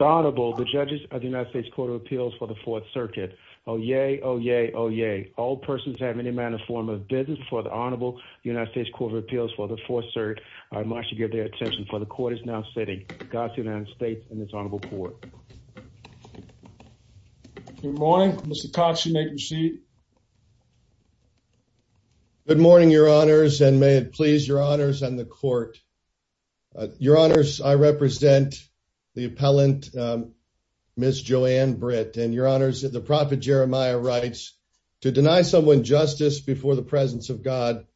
Honorable the judges of the United States Court of Appeals for the Fourth Circuit. Oh yay, oh yay, oh yay. All persons have any manner of form of business before the Honorable United States Court of Appeals for the Fourth Circuit. I must give their attention for the court is now sitting. God to the United States and his Honorable Court. Good morning Mr. Cox you may proceed. Good morning your honors and may it please your honors and the court. Uh your honors I represent the appellant um Ms. JoAnn Britt and your honors the prophet Jeremiah writes to deny someone justice before the presence of God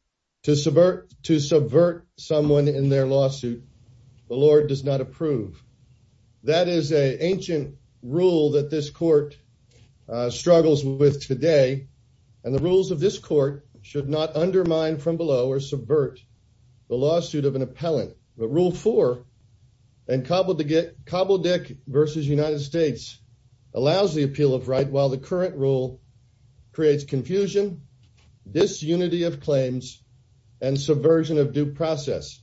to subvert to subvert someone in their lawsuit the Lord does not approve. That is a ancient rule that this court uh struggles with today and the rules of this court should not undermine from below or subvert the lawsuit of an appellant but rule four and cobble to get cobble dick versus United States allows the appeal of right while the current rule creates confusion disunity of claims and subversion of due process.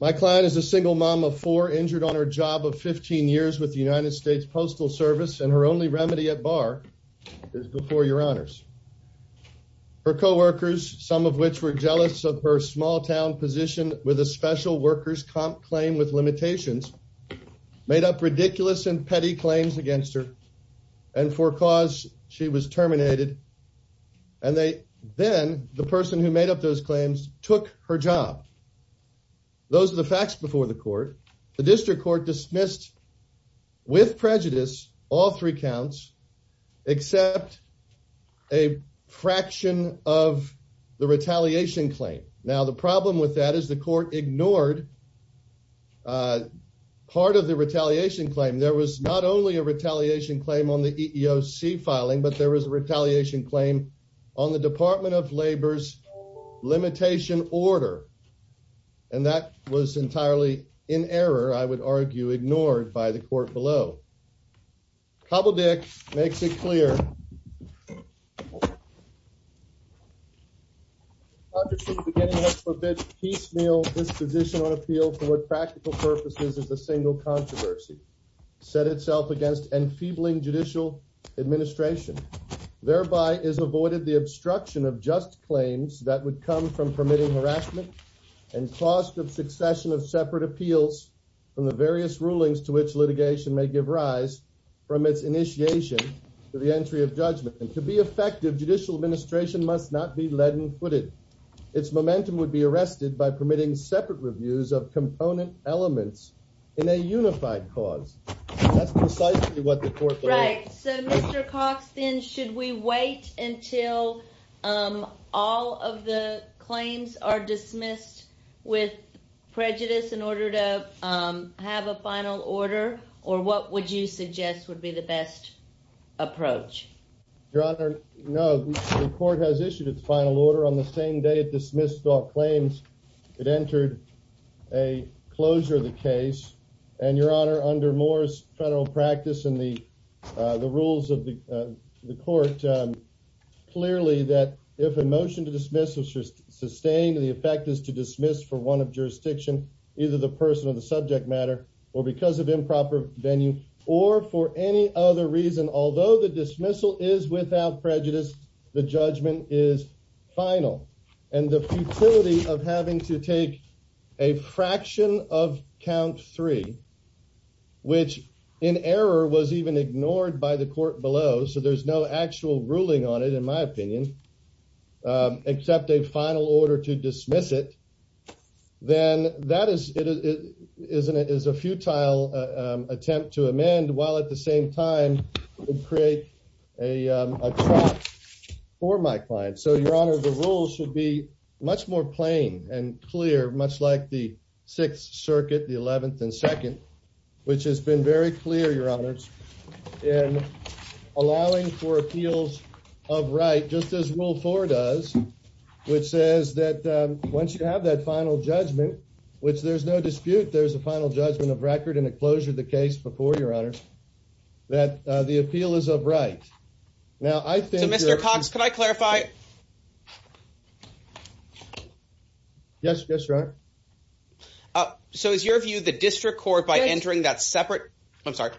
My client is a single mom of four injured on her job of 15 years with the United States Postal Service and her only remedy at bar is before your honors. Her co-workers some of which were jealous of her small town position with a special workers comp claim with limitations made up ridiculous and petty claims against her and for cause she was terminated and they then the person who made up those claims took her job. Those are the facts before the court. The claim now the problem with that is the court ignored uh part of the retaliation claim there was not only a retaliation claim on the EEOC filing but there was a retaliation claim on the Department of Labor's limitation order and that was entirely in error I would argue ignored by the court below. Cobble dick makes it clear piecemeal judicial appeal for practical purposes is a single controversy set itself against enfeebling judicial administration thereby is avoided the obstruction of just claims that would come from permitting harassment and cost of succession of separate appeals from the various rulings to which litigation may give rise from its initiation to the entry of judgment and to be effective judicial administration must not be leaden-footed its momentum would be arrested by permitting separate reviews of component elements in a unified cause that's precisely what the court right so Mr. Cox then should we wait until um all of the claims are dismissed with prejudice in order to um have a final order or what would you suggest would be the best approach your honor no the court has issued a final order on the same day it dismissed all claims it entered a closure of the case and your honor under Moore's federal practice and the uh the one of jurisdiction either the person of the subject matter or because of improper venue or for any other reason although the dismissal is without prejudice the judgment is final and the futility of having to take a fraction of count three which in error was even ignored by the court below so there's no actual ruling on it in my opinion except a final order to dismiss it then that is it isn't it is a futile attempt to amend while at the same time create a for my client so your honor the rules should be much more plain and clear much like the 6th circuit the 11th and 2nd which has been very clear your honors in allowing for appeals of right just as rule four does which says that um once you have that final judgment which there's no dispute there's a final judgment of record and a closure of the case before your honor that uh the appeal is of right now i think mr cox can i clarify yes that's right uh so is your view the district court by entering that separate i'm sorry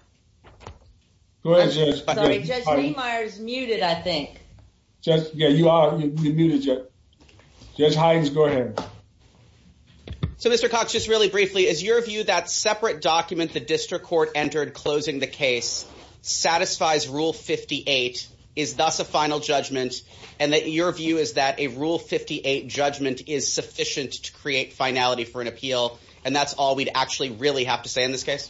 go ahead judge meyer's muted i think just yeah you are you're muted just judge hyden's going in so mr cox just really briefly is your view that separate documents the district court entered closing the case satisfies rule 58 is thus a final judgment and that your view is that a rule 58 judgment is sufficient to create finality for an appeal and that's all we'd actually really have to say in this case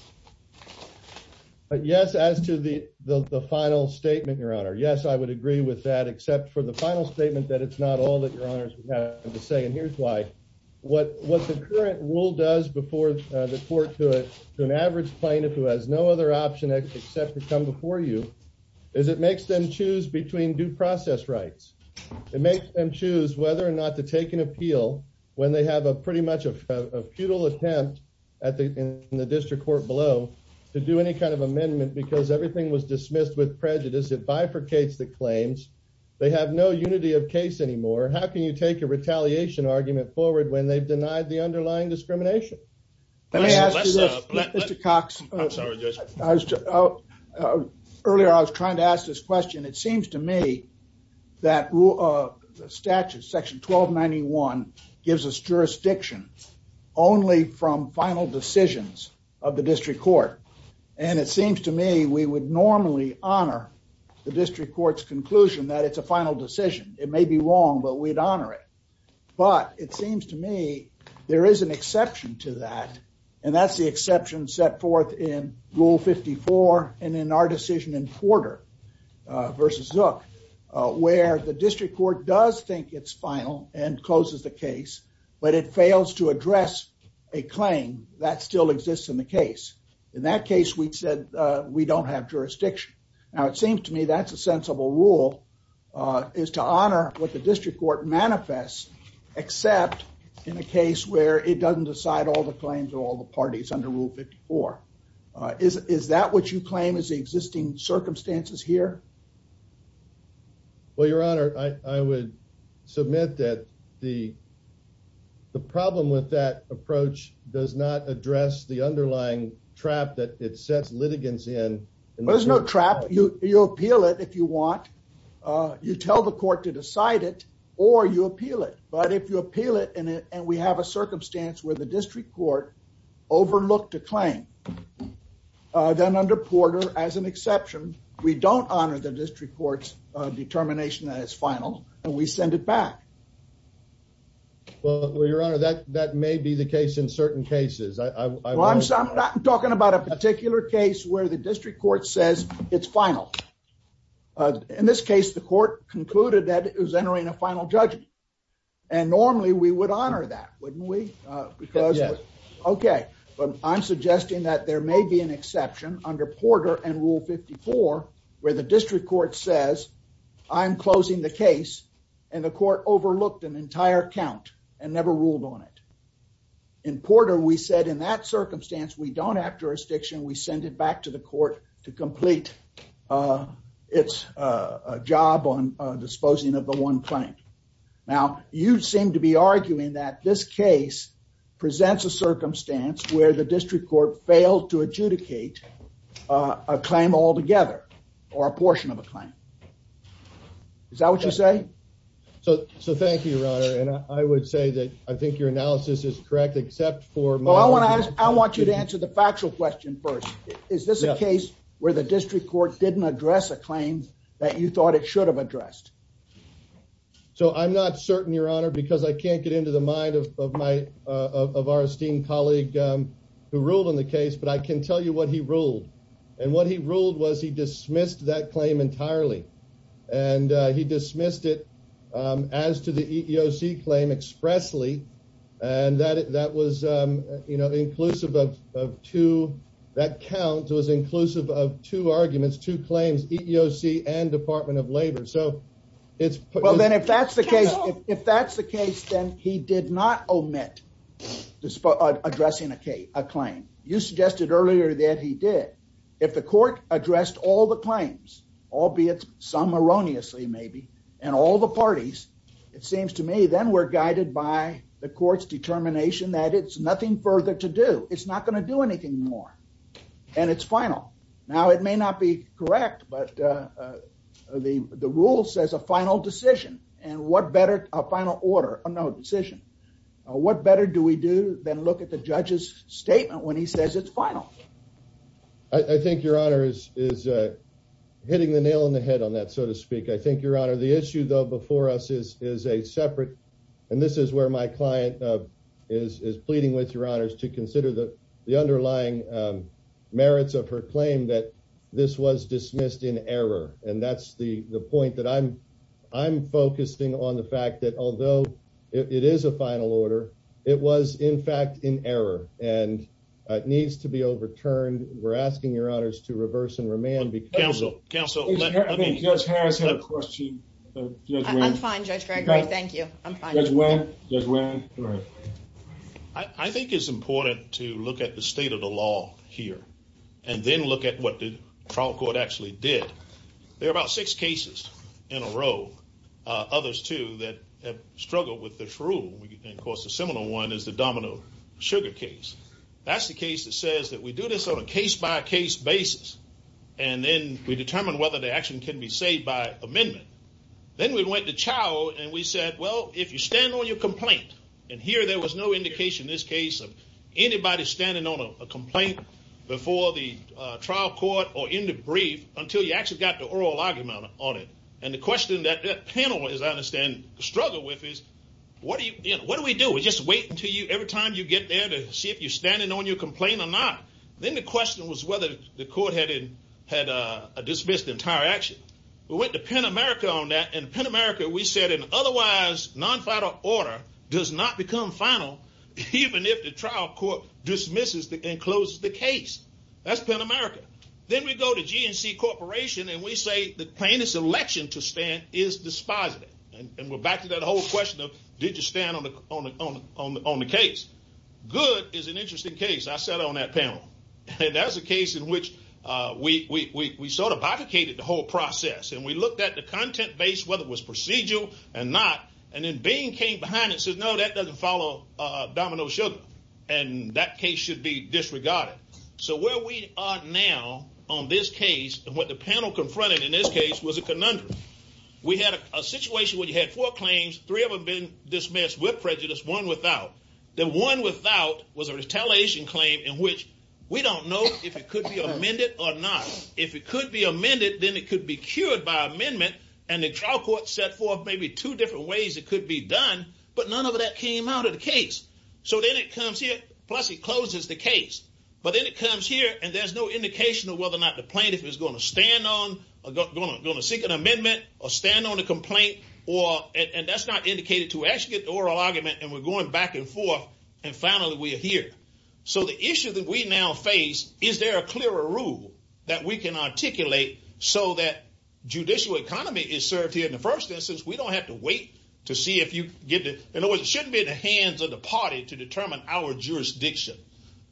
but yes as to the the final statement your honor yes i would agree with that except for the final statement that it's not all that your honors have to say and here's why what what the current rule does before the court to an average plaintiff who has no other option except to come before you is it makes them choose between due process rights it makes them choose whether or not to take an appeal when they have a pretty much a futile attempt at the in the district court below to do any kind of amendment because everything was dismissed with prejudice that bifurcates the claims they have no unity of case anymore how can you take a retaliation argument forward when they denied the underlying discrimination let me ask you this mr cox i was earlier i was trying to ask this question it seems to me that the statute section 1291 gives us jurisdiction only from final decisions of the district court and it seems to me we would normally honor the district court's conclusion that it's a final decision it may be wrong but we'd honor it but it seems to me there is an exception to that and that's the exception set forth in rule 54 and in our decision in Porter versus Zook where the district court does think it's final and closes the case but it fails to address a claim that still exists in the case in that case we said we don't have jurisdiction now it seems to me that's a sensible rule is to honor what the district court manifests except in a case where it doesn't decide all the claims or all the parties under rule 54 is is that what you claim is the existing circumstances here well your honor i i would submit that the the problem with that approach does not address the underlying trap that it sets litigants in there's no trap you you appeal it if you want uh you tell the court to decide it or you appeal it but if you appeal it and it and we have a circumstance where the district court overlooked a claim then under Porter as an exception we don't honor the district court's determination that it's final and we send it back well your honor that that may be the case in certain cases i i'm talking about a particular case where the district court says it's final in this case the court concluded that it was entering a final judgment and normally we would honor that wouldn't we because yes okay but i'm suggesting that there may be an exception under Porter and rule 54 where the district court says i'm closing the case and the court overlooked an entire count and never ruled on it in Porter we said in that circumstance we don't have jurisdiction we send it back to the court to complete uh its uh a job on uh disposing of the one client now you seem to be arguing that this case presents a circumstance where the district court failed to adjudicate uh a claim altogether or a portion of a claim is that what you say so so thank you your honor and i would say that i think your analysis is correct except for well i want to ask i want you to answer the factual question first is this a case where the district court didn't address a claim that you thought it should have addressed so i'm not certain your honor because i can't get into the mind of my uh of our esteemed colleague um who ruled on the case but i can tell you what he ruled and what he ruled was he dismissed that claim entirely and uh he dismissed it um as to the expressly and that that was um you know the inclusive of of two that counts was inclusive of two arguments two claims eeoc and department of labor so it's well then if that's the case if that's the case then he did not omit addressing a k a claim you suggested earlier that he did if the court addressed all the claims albeit some erroneously maybe and all the parties it seems to me then we're guided by the court's determination that it's nothing further to do it's not going to do anything more and it's final now it may not be correct but uh uh the the rule says a final decision and what better a final order no decision what better do we do than look at the judge's statement when he says it's final i think your honor is is uh hitting the nail on on that so to speak i think your honor the issue though before us is is a separate and this is where my client uh is is pleading with your honors to consider the the underlying um merits of her claim that this was dismissed in error and that's the the point that i'm i'm focusing on the fact that although it is a final order it was in fact in error and it needs to be overturned we're asking your honors to reverse and remand counsel counsel i think judge has a question i'm fine judge thank you i'm fine i think it's important to look at the state of the law here and then look at what the trial court actually did there are about six cases in a row uh others too that have struggled with this rule and of course a similar one is the domino sugar case that's the case that says that we do this on a case-by-case basis and then we determine whether the action can be saved by amendment then we went to chow and we said well if you stand on your complaint and here there was no indication in this case of anybody standing on a complaint before the uh trial court or in the brief until you actually got the oral argument on it and the question that that panel as i understand struggle with is what do you what do we do we're just waiting for you every time you get see if you're standing on your complaint or not then the question was whether the court had had a dismissed entire action we went to pentamerica on that and pentamerica we said an otherwise non-final order does not become final even if the trial court dismisses and closes the case that's pentamerica then we go to gnc corporation and we say the plaintiff's election to stand is and we're back to that whole question of did you stand on the on the on the case good is an interesting case i sat on that panel and that's a case in which uh we we we sort of abdicated the whole process and we looked at the content base whether it was procedural and not and then being came behind and said no that doesn't follow uh domino sugar and that case should be disregarded so where we are now on this case and what the panel confronted in this case was a conundrum we had a situation where you had four claims three of them been dismissed with prejudice one without then one without was a retaliation claim in which we don't know if it could be amended or not if it could be amended then it could be cured by amendment and the trial court set forth maybe two different ways it could be done but none of that came out of the case so then it comes here plus it closes the case but then it comes here and there's no indication of whether or not the stand on the complaint or and that's not indicated to actually get the oral argument and we're going back and forth and finally we're here so the issue that we now face is there a clearer rule that we can articulate so that judicial economy is served here in the first instance we don't have to wait to see if you get it in other words it shouldn't be in the hands of the party to determine our jurisdiction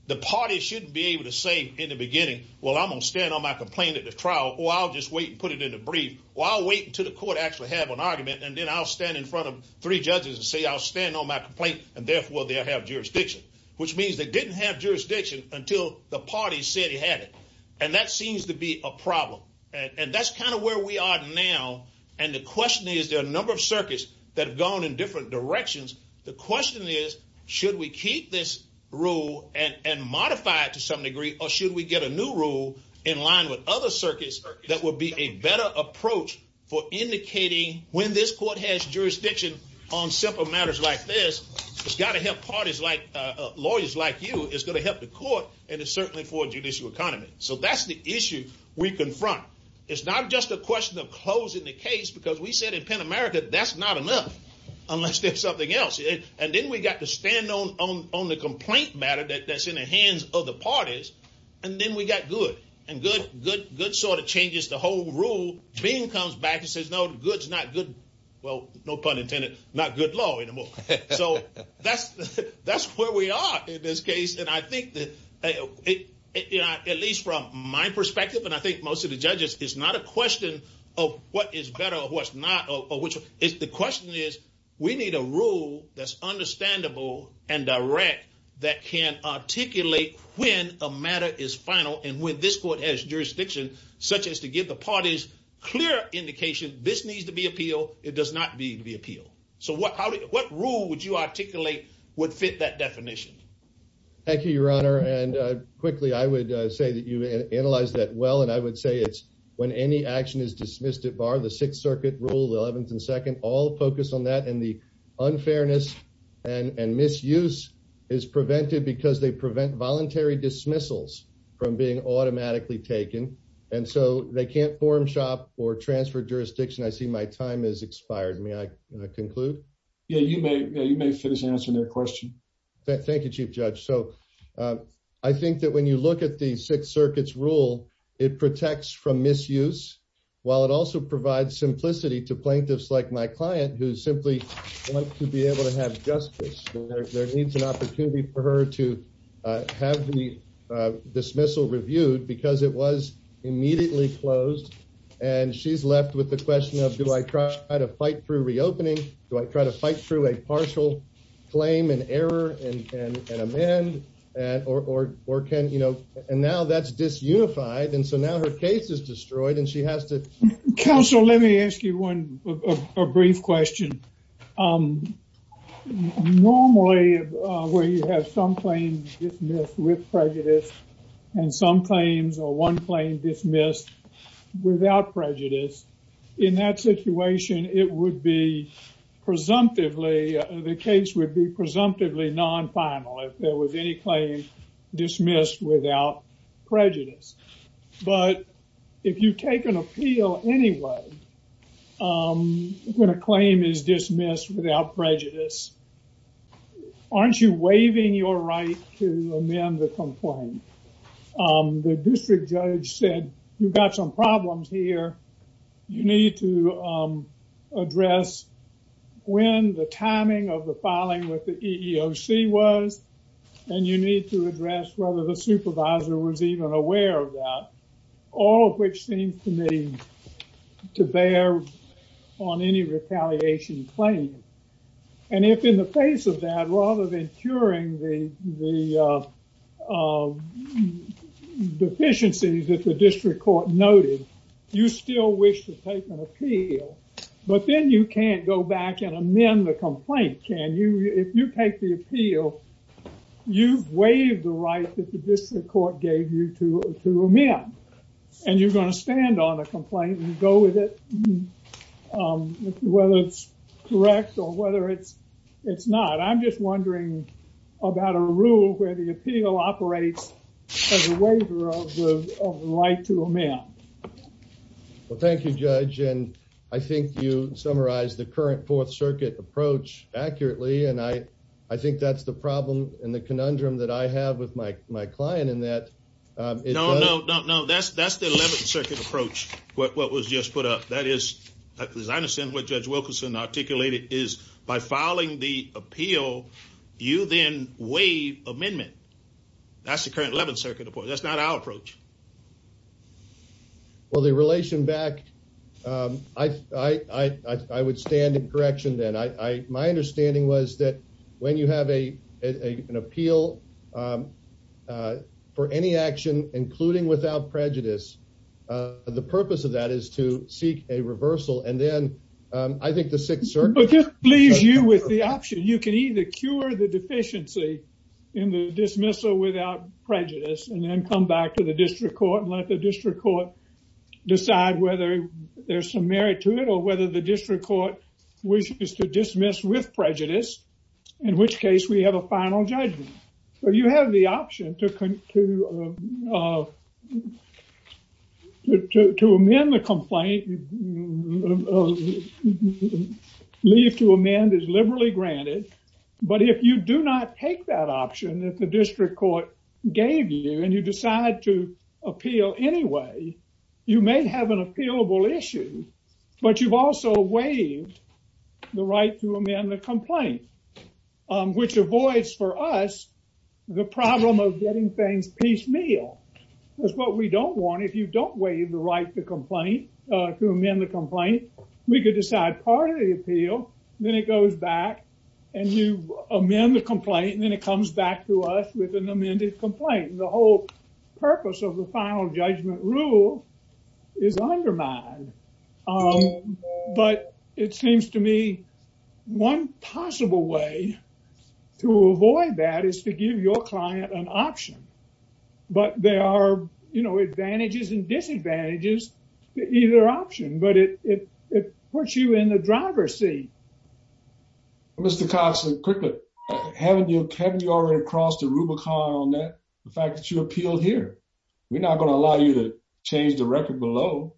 the party shouldn't be able to say in the beginning well i'm gonna on my complaint at the trial or i'll just wait and put it in the brief while waiting to the court actually have an argument and then i'll stand in front of three judges and say i'll stand on my complaint and therefore they'll have jurisdiction which means they didn't have jurisdiction until the party said he had it and that seems to be a problem and that's kind of where we are now and the question is there are a number of circuits that have gone in different directions the question is should we keep this rule and and modify it to some degree or should we get a new rule in line with other circuits that would be a better approach for indicating when this court has jurisdiction on simple matters like this it's got to help parties like uh lawyers like you it's going to help the court and it's certainly for judicial economy so that's the issue we confront it's not just a question of closing the case because we said in pentamerica that's not enough unless there's something else and then we got to stand on on the complaint matter that that's in the hands of the parties and then we got good and good good good sort of changes the whole rule being comes back and says no good's not good well no pun intended not good law anymore so that's that's where we are in this case and i think that at least from my perspective and i think most of the judges it's not a question of what is better or what's not or which if the rule that's understandable and direct that can articulate when a matter is final and when this court has jurisdiction such as to give the parties clear indication this needs to be appealed it does not need to be appealed so what how what rule would you articulate would fit that definition thank you your honor and uh quickly i would say that you analyzed that well and i would say it's when any action is dismissed at bar the sixth circuit rule the 11th and second all focus on that and the unfairness and and misuse is prevented because they prevent voluntary dismissals from being automatically taken and so they can't form shop or transfer jurisdiction i see my time has expired may i conclude yeah you may you may finish answering that question thank you chief judge so i think that when you look at the sixth circuit's rule it protects from misuse while it wants to be able to have justice there needs an opportunity for her to have the dismissal reviewed because it was immediately closed and she's left with the question of do i try to fight through reopening do i try to fight through a partial claim and error and and amend and or or can you know and now that's disunified and so now her case is um normally where you have some claims dismissed with prejudice and some claims or one claim dismissed without prejudice in that situation it would be presumptively the case would be presumptively non-final if there was any claim dismissed without prejudice but if you take an um when a claim is dismissed without prejudice aren't you waiving your right to amend the complaint um the district judge said you've got some problems here you need to um address when the timing of the filing with the eeoc was and you need to address whether the supervisor was even aware of that all which seems to me to bear on any retaliation claim and if in the face of that rather than curing the the uh deficiencies that the district court noted you still wish to take an appeal but then you can't go back and amend the complaint can you if you take the appeal you've waived the right that the district court gave you to to amend and you're going to stand on a complaint and go with it whether it's correct or whether it's it's not i'm just wondering about a rule where the appeal operates as a waiver of the right to amend well thank you judge and i think you summarized the i think that's the problem and the conundrum that i have with my my client in that um no no no that's that's the 11th circuit approach what was just put up that is as i understand what judge wilkinson articulated is by filing the appeal you then waive amendment that's the current 11th circuit of course that's not our approach well the relation back um i i i i would stand in correction then i my understanding was that when you have a an appeal um uh for any action including without prejudice uh the purpose of that is to seek a reversal and then um i think the sixth circuit leaves you with the option you can either cure the deficiency in the dismissal without prejudice and then come back to the district court and let the district court decide whether there's some merit to it or whether the district court wishes to dismiss with prejudice in which case we have a final judgment so you have the option to to to amend the complaint leave to amend is liberally granted but if you do not take that option that the district court gave you and you decide to appeal anyway you may have an appealable issue but you've also waived the right to amend the complaint um which avoids for us the problem of getting things piecemeal that's what we don't want if you don't waive the right to complain uh to amend the complaint we could decide part of the appeal then it goes back and you amend the complaint and then it comes back to us with an amended complaint the whole purpose of the final judgment rule is undermined but it seems to me one possible way to avoid that is to give your client an option but there are you know advantages and disadvantages to either option but it it puts you in the driver's seat. Mr. Cox quickly haven't you can you already crossed the Rubicon on that the fact that you appealed here we're not going to allow you to change the record below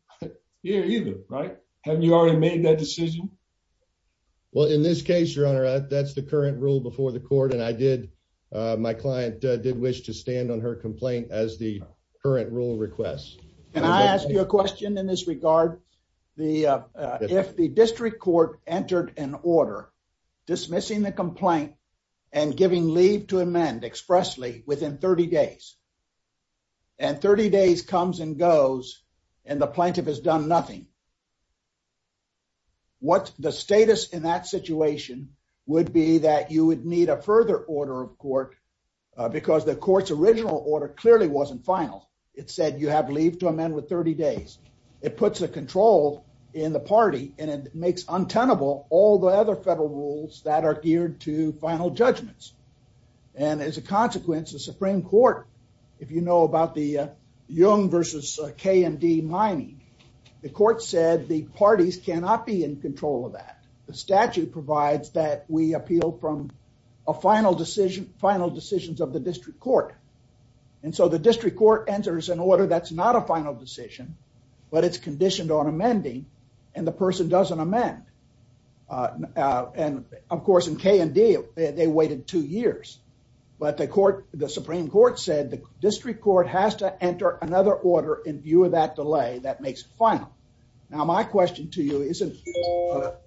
here either right haven't you already made that decision? Well in this case your honor that's the current rule before the court and I did uh my client did wish to stand on her complaint as the current rule request. Can I an order dismissing the complaint and giving leave to amend expressly within 30 days and 30 days comes and goes and the plaintiff has done nothing what's the status in that situation would be that you would need a further order of court because the court's original order clearly wasn't final it said you have leave to amend with 30 days it puts a control in the party and it makes untenable all the other federal rules that are geared to final judgments and as a consequence the supreme court if you know about the uh young versus k and d mining the court said the parties cannot be in control of that the statute provides that we appeal from a final decision final decisions of the district court and so the but it's conditioned on amending and the person doesn't amend uh and of course in k and d they waited two years but the court the supreme court said the district court has to enter another order in view of that delay that makes it final now my question to you isn't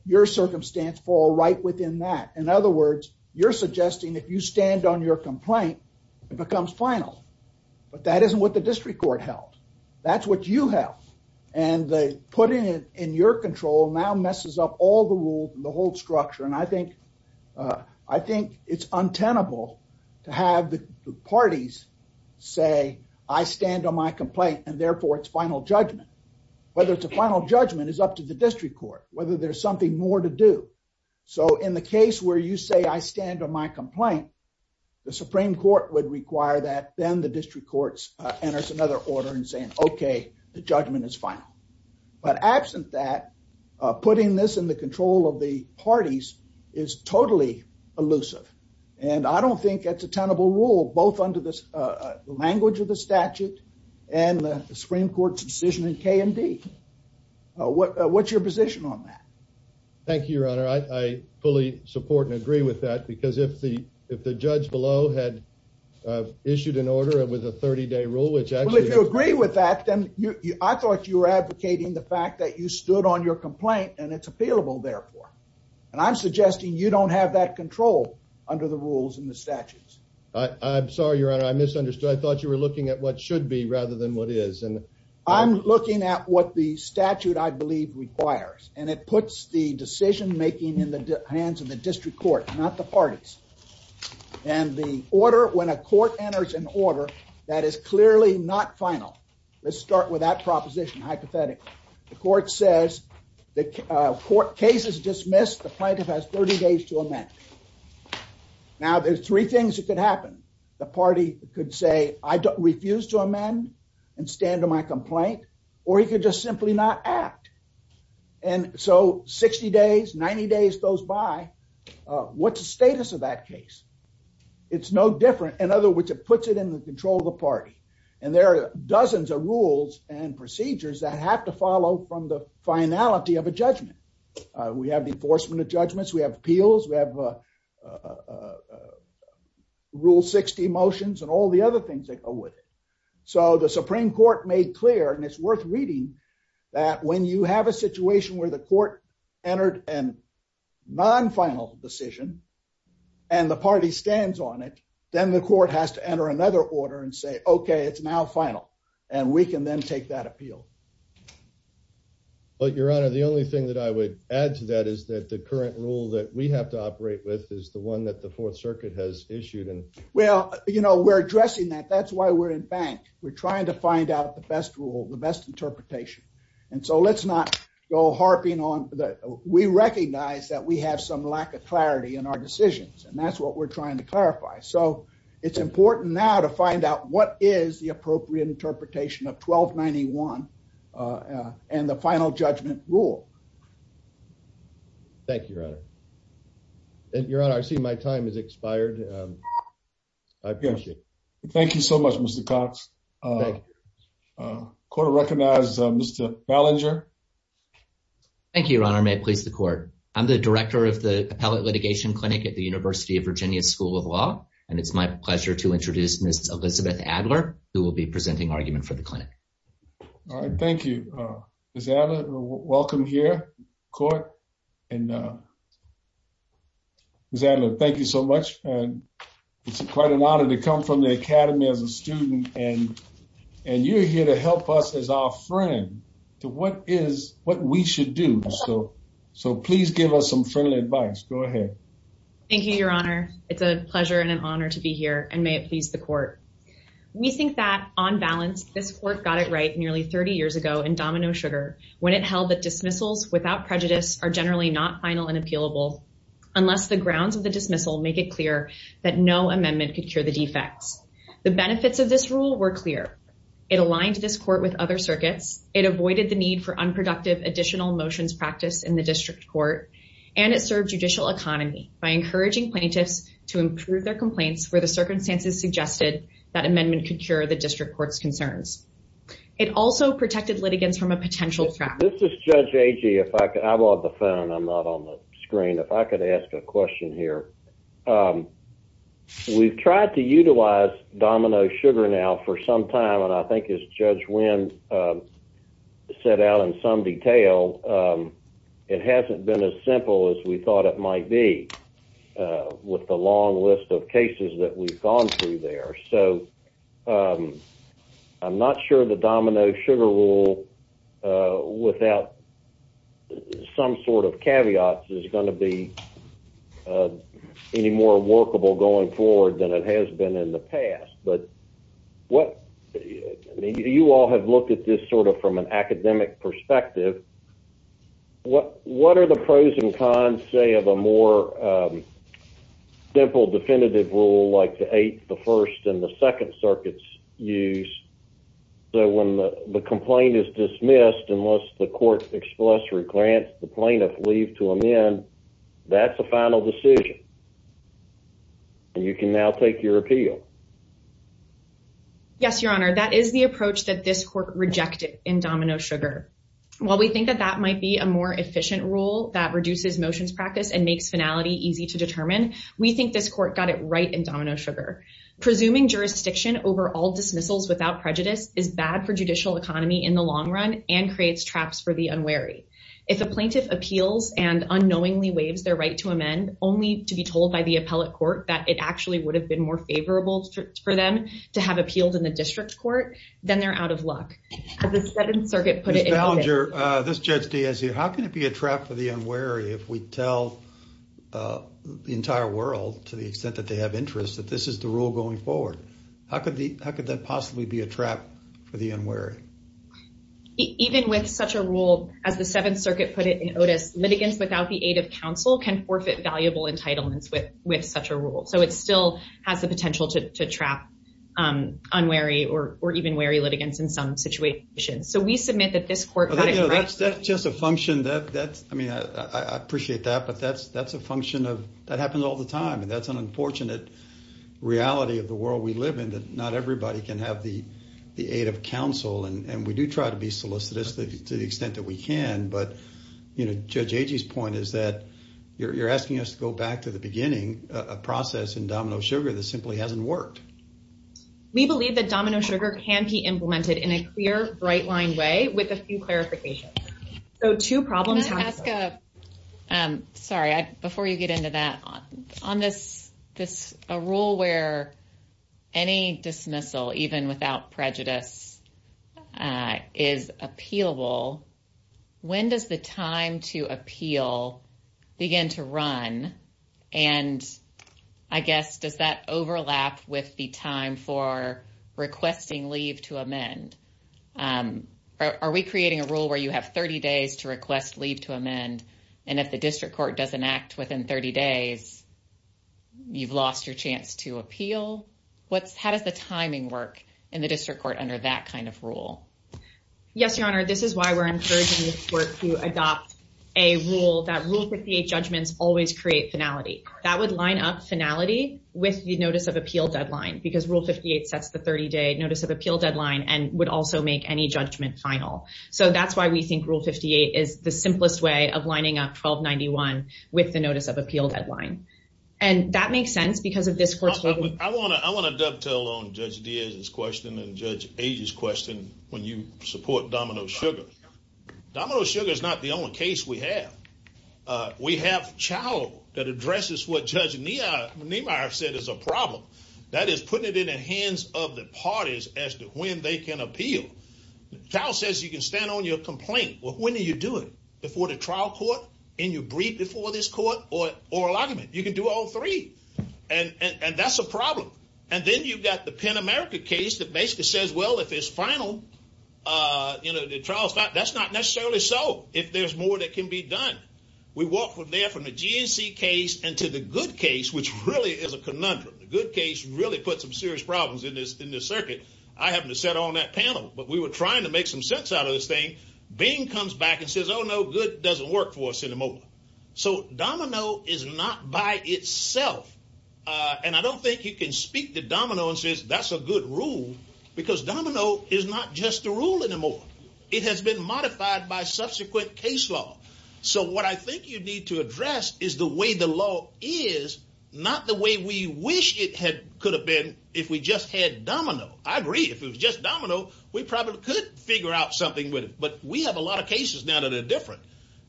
your circumstance fall right within that in other words you're suggesting if you stand on your complaint it becomes final but that isn't what the district court held that's what you have and the putting it in your control now messes up all the rules and the whole structure and i think uh i think it's untenable to have the parties say i stand on my complaint and therefore it's final judgment whether it's a final judgment is up to the district court whether there's something more to do so in the district courts uh enters another order and saying okay the judgment is final but absent that uh putting this in the control of the parties is totally elusive and i don't think it's a tenable rule both under this uh language of the statute and the supreme court's decision in k and d uh what what's your position on that thank you your honor i i fully support and agree with that because if the if the judge below had uh issued an order it was a 30-day rule which if you agree with that then you i thought you were advocating the fact that you stood on your complaint and it's appealable therefore and i'm suggesting you don't have that control under the rules and the statutes i i'm sorry your honor i misunderstood i thought you were looking at what should be rather than what is and i'm looking at what the statute i believe requires and it puts the parties and the order when a court enters an order that is clearly not final let's start with that proposition hypothetically the court says the court case is dismissed the plaintiff has 30 days to amend now there's three things that could happen the party could say i don't refuse to amend and stand on my complaint or he could just simply not act and so 60 days 90 days goes by what's the status of that case it's no different in other words it puts it in the control of the party and there are dozens of rules and procedures that have to follow from the finality of a judgment we have the enforcement of judgments we have appeals we have uh rule 60 motions and all the other things that go with it so the supreme court made clear and worth reading that when you have a situation where the court entered an non-final decision and the party stands on it then the court has to enter another order and say okay it's now final and we can then take that appeal but your honor the only thing that i would add to that is that the current rule that we have to operate with is the one that the fourth circuit has issued and well you know we're addressing that that's why we're in fact we're trying to find out the best rule the best interpretation and so let's not go harping on that we recognize that we have some lack of clarity in our decisions and that's what we're trying to clarify so it's important now to find out what is the appropriate interpretation of 1291 uh and the final judgment rule thank you your honor your honor i see my time has expired um i've got you thank you so much mr cox uh uh court recognized uh mr fallinger thank you your honor may it please the court i'm the director of the appellate litigation clinic at the university of virginia school of law and it's my pleasure to introduce miss elizabeth adler who will be presenting argument for the clinic all right thank you uh miss adler welcome here court and uh miss adler thank you so much and it's quite an honor to come from the academy as a student and and you're here to help us as our friend so what is what we should do so so please give us some friendly advice go ahead thank you your honor it's a pleasure and an honor to be here and may it please the court we think that on balance this court got it right nearly 30 years ago in domino sugar when it held that dismissals without prejudice are generally not final and appealable unless the grounds of the dismissal make it clear that no amendment could cure the defects the benefits of this rule were clear it aligned this court with other circuits it avoided the need for unproductive additional motions practice in the district court and it served judicial economy by encouraging plaintiffs to improve their complaints where the circumstances suggested that amendment could cure the district court's concerns it also protected litigants from a potential this is judge aji if i i'm on the phone i'm not on the screen if i could ask a question here um we've tried to utilize domino sugar now for some time and i think as judge win set out in some detail um it hasn't been as simple as we thought it might be uh with the long list of cases that we've gone through there so um i'm not sure the domino sugar rule uh without some sort of caveats is going to be uh any more workable going forward than it has been in the past but what you all have looked at this sort of from an academic perspective what what are the pros and cons say of a more um simple definitive rule like the eight the first and the second circuits use so when the complaint is dismissed unless the court express or grants the plaintiff leave to amend that's a final decision and you can now take your appeal yes your honor that is the approach that this court rejected in domino sugar well we think that that might be a more efficient rule that reduces motions practice and makes finality easy to determine we think this court got it right in domino sugar presuming jurisdiction over all dismissals without prejudice is bad for judicial economy in the long run and creates traps for the unwary if a plaintiff appeals and unknowingly waives their right to amend only to be told by the appellate court that it actually would have been more favorable for them to have appealed in the district court then they're out of luck as the seventh circuit put it this judge daisy how can it be a trap for the unwary if we tell the entire world to the extent that they have interest that this is the rule going forward how could the how could that possibly be a trap for the unwary even with such a rule as the seventh circuit put it in otis litigants without the aid of counsel can forfeit valuable entitlements with with such a rule so it still has the potential to trap unwary or even wary litigants in some situations so we submit that this court that's just a function that that's i mean i i appreciate that but that's that's a function of that happens all the time and that's an unfortunate reality of the world we live in that not everybody can have the the aid of counsel and we do try to be solicitous to the extent that we can but you know judge agee's point is that you're asking us to go back to the beginning a process in domino sugar that simply hasn't worked we believe that domino sugar can be implemented in a clear bright line way with a few clarifications so two problems ask uh um sorry i before you get into that on this this a rule where any dismissal even without prejudice uh is appealable when does the time to appeal begin to run and i guess does that overlap with the time for requesting leave to amend um are we creating a rule where you have 30 days to request leave to amend and if the district court doesn't act within 30 days you've lost your chance to appeal what's how does the timing work in the district court under that kind of rule yes your honor this is why we're to adopt a rule that rule 58 judgments always create finality that would line up finality with the notice of appeal deadline because rule 58 sets the 30-day notice of appeal deadline and would also make any judgment final so that's why we think rule 58 is the simplest way of lining up 1291 with the notice of appeal deadline and that makes sense because of this i want to i want to domino sugar is not the only case we have uh we have chow that addresses what judge nemeyer said it's a problem that is putting it in the hands of the parties as to when they can appeal chow says you can stand on your complaint well when are you doing it before the trial court and you breathe before this court or or a lot of it you can do all three and and that's a problem and then you've got the pan-american case that basically says well if it's final uh you know that's not necessarily so if there's more that can be done we walk from there from the gc case and to the good case which really is a conundrum the good case really put some serious problems in this in this circuit i happen to sit on that panel but we were trying to make some sense out of this thing beam comes back and says oh no good doesn't work for us anymore so domino is not by itself uh and i don't think you can speak the dominoes that's a good rule because domino is not just the rule anymore it has been modified by subsequent case law so what i think you need to address is the way the law is not the way we wish it had could have been if we just had domino i agree if it was just domino we probably could figure out something with it but we have a lot of cases now that are different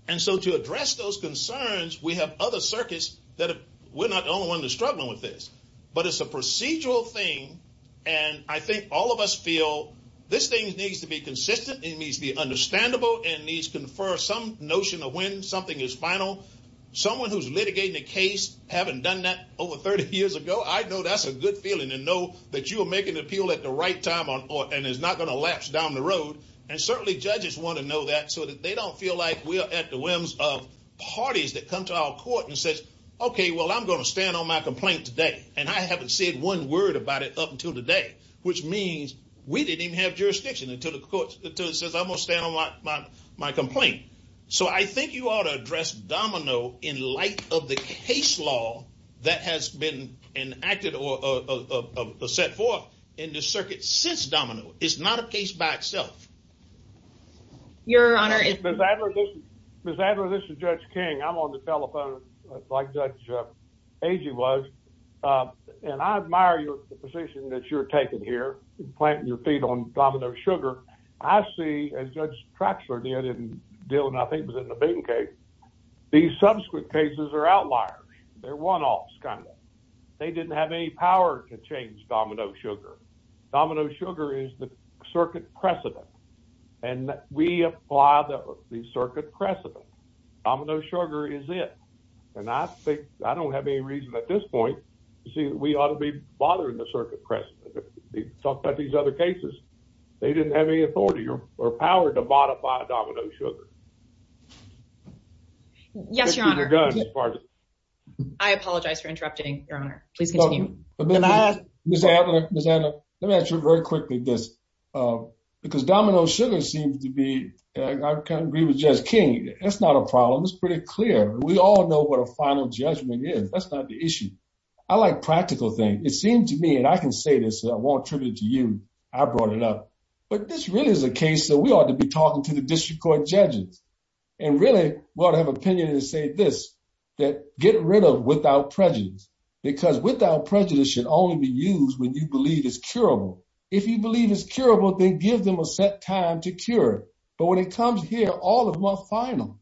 and so to address those concerns we have other circuits that we're with this but it's a procedural thing and i think all of us feel this thing needs to be consistent it needs to be understandable and these confer some notion of when something is final someone who's litigated the case haven't done that over 30 years ago i know that's a good feeling to know that you are making the appeal at the right time on and it's not going to lapse down the road and certainly judges want to know that so that they don't feel like we are at the whims of okay well i'm going to stand on my complaint today and i haven't said one word about it up until today which means we didn't have jurisdiction until the court says i'm going to stand on my my complaint so i think you ought to address domino in light of the case law that has been enacted or set forth in the circuit since domino it's not a case by itself your honor is that this is judge king i'm on the telephone like judge agee was and i admire your position that you're taking here planting your feet on domino sugar i see as judge traxler near didn't deal enough papers in the beam case these subsequent cases are outliers they're one-offs kind of they didn't have any power to change domino sugar domino sugar is the and we apply the circuit crescent domino sugar is it and i think i don't have any reason at this point to see that we ought to be bothering the circuit press talk about these other cases they didn't have any authority or power to modify domino sugar yes your honor i apologize for interrupting your honor but then i just have let me ask you very quickly this um because domino sugar seems to be i can't agree with just king that's not a problem it's pretty clear we all know what a final judgment is that's not the issue i like practical things it seems to me and i can say this i want tribute to you i brought it up but this really is a case that we ought to be talking to the district court judges and really what i have opinion to say this that get rid of without prejudice because without prejudice should only be used when you believe it's curable if you believe it's curable they give them a set time to cure it but when it comes here all of my final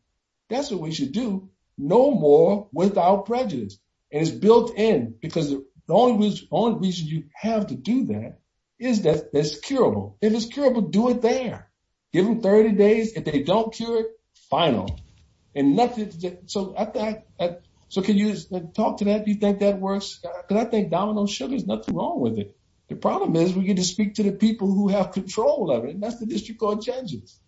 that's what we should do no more without prejudice it's built in because the only reason you have to do that is that it's curable do it there give them 30 days if they don't cure it final and that's it so i think so can you talk to that do you think that works because i think domino sugar is nothing wrong with it the problem is we get to speak to the people who have control of it that's the district court judges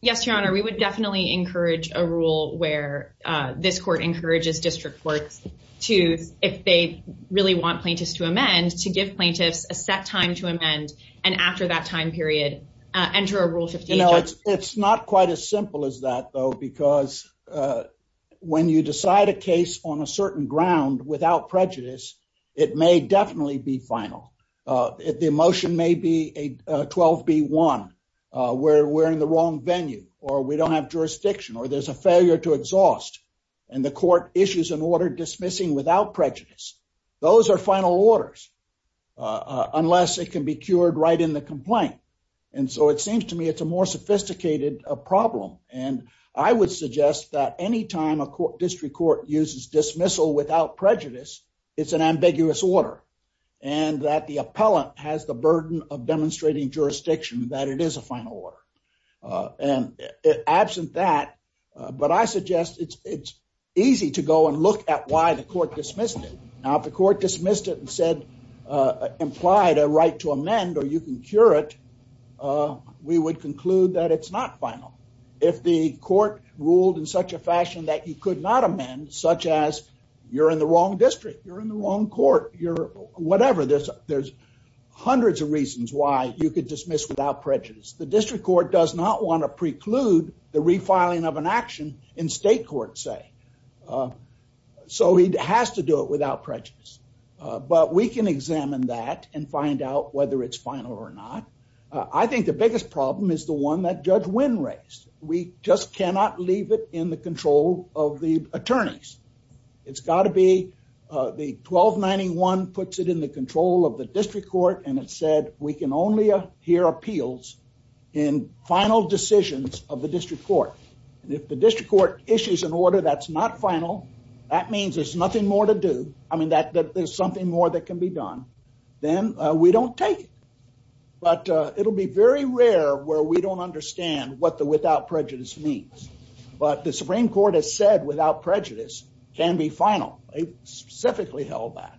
yes your honor we would definitely encourage a rule where uh this court encourages district courts to if they really want plaintiffs to amend to give plaintiffs a set time to amend and after that time period uh enter a rule to you know it's not quite as simple as that though because uh when you decide a case on a certain ground without prejudice it may definitely be final uh if the emotion may be a 12b1 uh where we're in the wrong venue or we don't have dismissing without prejudice those are final orders uh unless it can be cured right in the complaint and so it seems to me it's a more sophisticated a problem and i would suggest that any time a court district court uses dismissal without prejudice it's an ambiguous order and that the appellant has the burden of demonstrating jurisdiction that it is a final uh and absent that but i suggest it's it's easy to go and look at why the court dismissed it now if the court dismissed it and said uh implied a right to amend or you can cure it uh we would conclude that it's not final if the court ruled in such a fashion that you could not amend such as you're in the wrong district you're in the wrong court you're whatever this there's hundreds of the district court does not want to preclude the refiling of an action in state court say so he has to do it without prejudice but we can examine that and find out whether it's final or not i think the biggest problem is the one that judge win race we just cannot leave it in the control of the attorneys it's got to be uh the 1291 puts it in the control of the district court and it said we can only hear appeals in final decisions of the district court if the district court issues an order that's not final that means there's nothing more to do i mean that there's something more that can be done then we don't take it but it'll be very rare where we don't understand what the without prejudice means but the supreme court has said without prejudice can be final they specifically held that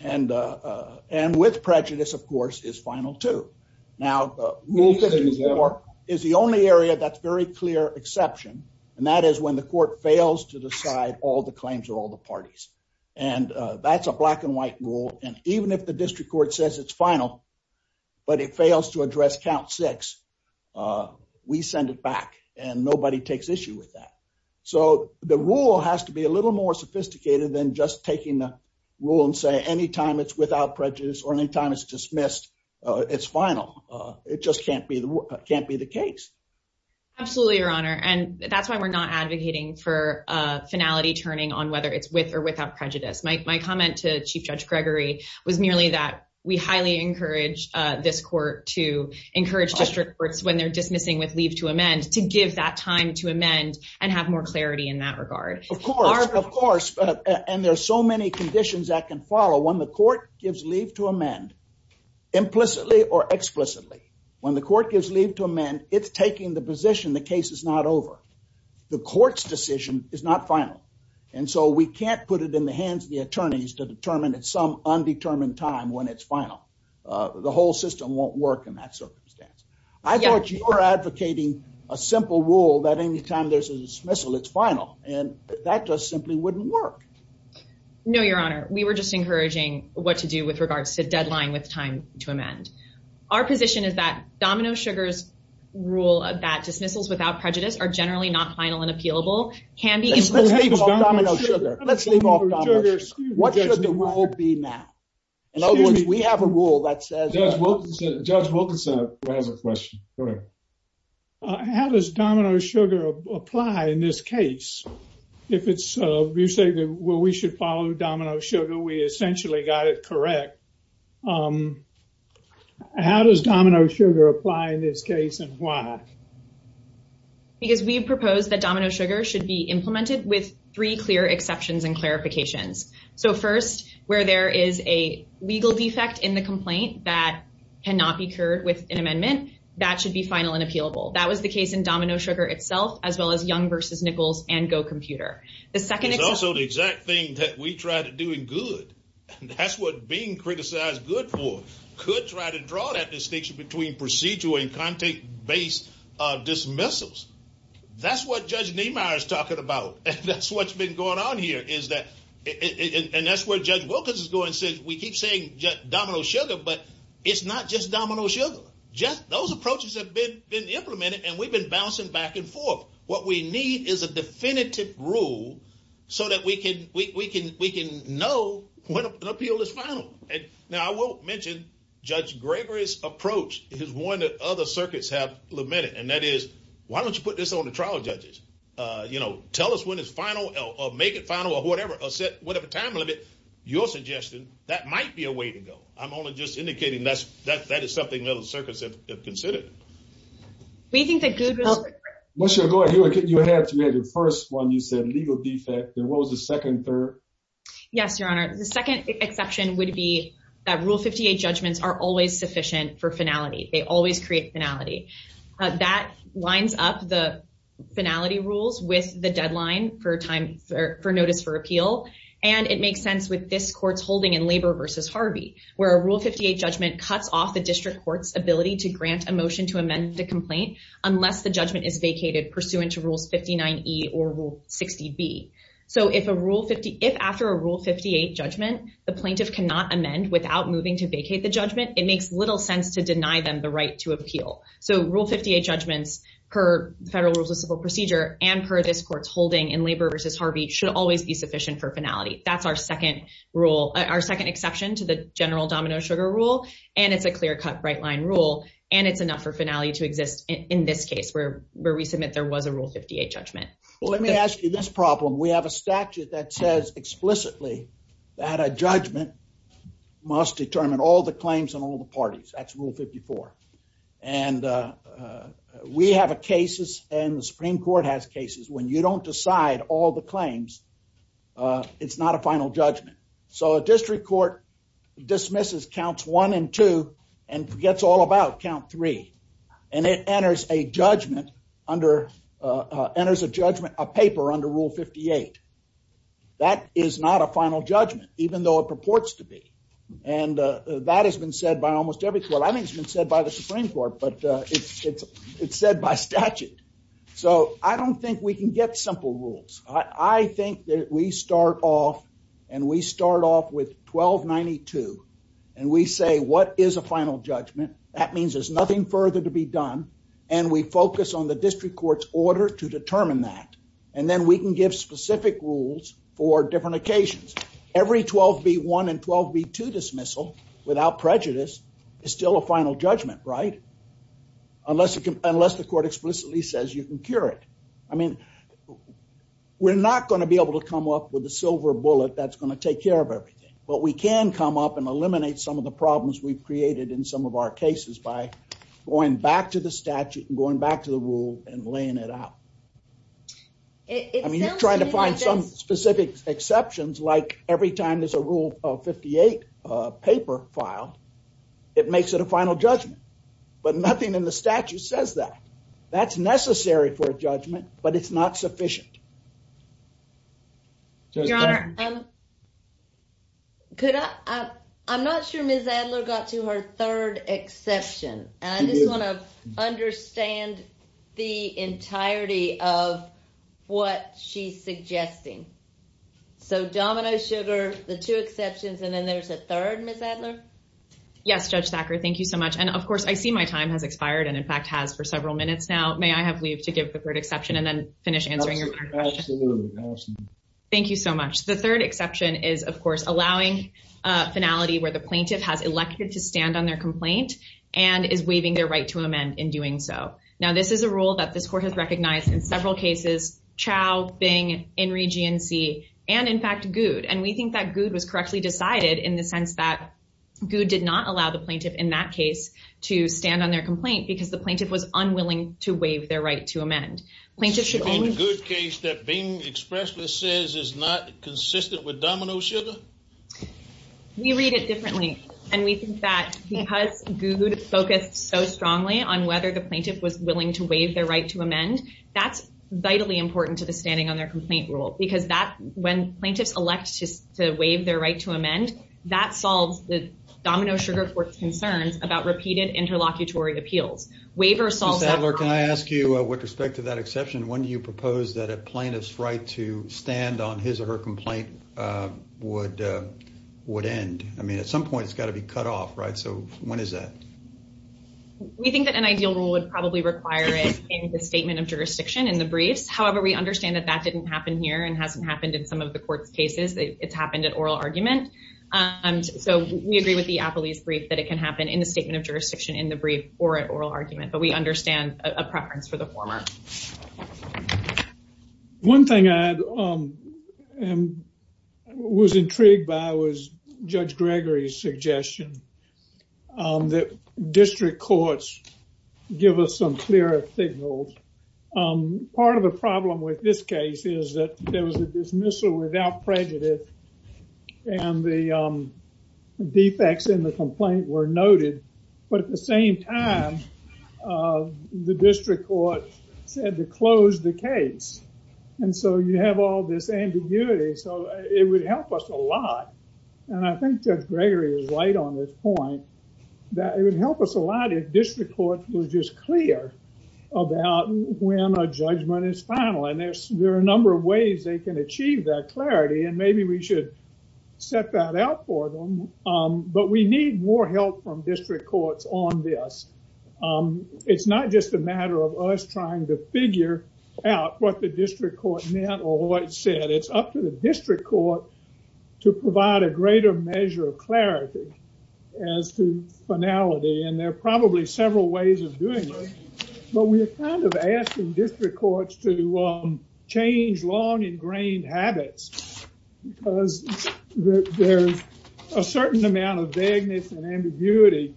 and uh and with prejudice of course is final too now rule 54 is the only area that's very clear exception and that is when the court fails to decide all the claims of all the parties and that's a black and white rule and even if the district court says it's final but it fails to address count six uh we send it back and nobody takes issue with that so the rule has to be a little more sophisticated than just taking the rule and say anytime it's without prejudice or anytime it's dismissed uh it's final uh it just can't be the can't be the case absolutely your honor and that's why we're not advocating for uh finality turning on whether it's with or without prejudice my comment to chief judge gregory was nearly that we highly encourage uh this court to encourage district courts when dismissing with leave to amend to give that time to amend and have more clarity in that regard of course of course and there's so many conditions that can follow when the court gives leave to amend implicitly or explicitly when the court gives leave to amend it's taking the position the case is not over the court's decision is not final and so we can't put it in the hands of the attorneys to determine at some undetermined time when it's final uh the whole system won't in that circumstance i thought you were advocating a simple rule that anytime there's a dismissal it's final and that just simply wouldn't work no your honor we were just encouraging what to do with regards to the deadline with time to amend our position is that domino sugar's rule about dismissals without prejudice are generally not final and appealable can be what should the world and ultimately we have a rule that says judge wilkinson has a question correct uh how does domino sugar apply in this case if it's uh you say that well we should follow domino sugar we essentially got it correct um how does domino sugar apply in this case and why because we propose that domino sugar should be implemented with three clear exceptions and clarifications so first where there is a legal defect in the complaint that cannot be cured with an amendment that should be final and appealable that was the case in domino sugar itself as well as young versus nichols and go computer the second is also the exact thing that we try to do it good that's what being criticized good for could try to draw that distinction between procedural and contact-based uh dismissals that's what judge nemeyer is talking about and that's what's been going on here is that and that's where judge wilkins is going since we keep saying just domino sugar but it's not just domino sugar just those approaches have been been implemented and we've been bouncing back and forth what we need is a definitive rule so that we can we can we can know when an appeal is found and now i won't mention judge gregory's approach it is one that other circuits have lamented and that is why don't you put this on the trial judges uh you know tell us when it's final or make it final or whatever or set whatever time limit your suggestion that might be a way to go i'm only just indicating that's that that is something that the circus have considered we think that google once you go ahead you have to have your first one you said legal defect and what was the second third yes your honor the second exception would be that rule 58 judgments are always sufficient for finality they always create finality that lines up the finality rules with the deadline for time for notice for appeal and it makes sense with this court's holding in labor versus harvey where a rule 58 judgment cuts off the district court's ability to grant a motion to amend the complaint unless the judgment is vacated pursuant to rule 59e or rule 60b so if a rule 50 if after a rule 58 judgment the plaintiff cannot amend without moving to vacate the judgment it makes little sense to deny them the right to appeal so rule 58 judgments per federal rules of civil procedure and per this court's holding in labor versus harvey should always be sufficient for finality that's our second rule our second exception to the general domino sugar rule and it's a clear cut right line rule and it's enough for finality to exist in this case where where we submit there was a rule 58 judgment well let me ask you this problem we have a statute that says explicitly that a judgment must determine all the claims and all the parties that's rule 54 and we have a cases and the supreme court has cases when you don't decide all the claims it's not a final judgment so a district court dismisses counts one and two and forgets all about count three and it enters a judgment under uh enters a judgment a paper under rule 58 that is not a final judgment even though it purports to be and that has been said by almost every well i think it's been said by the supreme court but uh it's it's said by statute so i don't think we can get simple rules i i think that we start off and we start off with 1292 and we say what is a final judgment that means there's nothing further to be done and we focus on the district court's order to determine that and then we can give specific rules for different occasions every 12v1 and 12v2 dismissal without prejudice is still a final judgment right unless unless the court explicitly says you can cure it i mean we're not going to be able to come up with a silver bullet that's going to take care of everything but we can come up and eliminate some of the problems we've created in some of our cases by going back to the statute and going back to the rule and laying it out i mean you're trying to find some specific exceptions like every time there's a rule of 58 uh paper file it makes it a final judgment but nothing in the statute says that that's necessary for judgment but it's not sufficient your honor um could i i'm not sure ms adler got to her third exception and i just want to understand the entirety of what she's suggesting so domino sugar the two exceptions and then there's a third ms adler yes judge backer thank you so much and of course i see my time has expired and in fact has for several minutes now may i have leave to give the third exception and then finish thank you so much the third exception is of course allowing uh finality where the plaintiff has elected to stand on their complaint and is waiving their right to amend in doing so now this is a rule that this court has recognized in several cases chow bing in region c and in fact good and we think that good was correctly decided in the sense that good did not allow the plaintiff in that case to stand on their complaint because the plaintiff was unwilling to waive their right to amend plaintiff should be a good case that being expressed with says is not consistent with domino sugar we read it differently and we think that because good focused so strongly on whether the plaintiff was willing to waive their right to amend that's vitally important to the standing on their complaint rule because that's when plaintiffs elect to waive their right to amend that solves the domino sugar court's concerns about repeated interlocutory appeals waiver solves that work can i ask you with respect to that exception when you propose that a plaintiff's to stand on his or her complaint uh would uh would end i mean at some point it's got to be cut off right so when is that we think that an ideal rule would probably require it in the statement of jurisdiction in the brief however we understand that that didn't happen here and hasn't happened in some of the court's cases it's happened at oral argument um so we agree with the appellee's brief that it can happen in the statement of jurisdiction in the brief or at oral argument but we understand a preference for the former one thing i had um and was intrigued by was judge gregory's suggestion um that district courts give us some clearer signals um part of the problem with this case is that there was a dismissal without prejudice and the um defects in the complaint were noted but at the same time uh the district court had to close the case and so you have all this ambiguity so it would help us a lot and i think that gregory is right on this point that it would help us a lot if district courts were just clear about when a judgment is final and there's there are a number of ways they can achieve that clarity and maybe we should set that out for them um but we need more help from district courts on this um it's not just a matter of us trying to figure out what the district court meant or what it said it's up to the district court to provide a greater measure of clarity as to finality and there are probably several ways of doing this but we're kind of asking district courts to change long ingrained habits because there's a certain amount of vagueness and ambiguity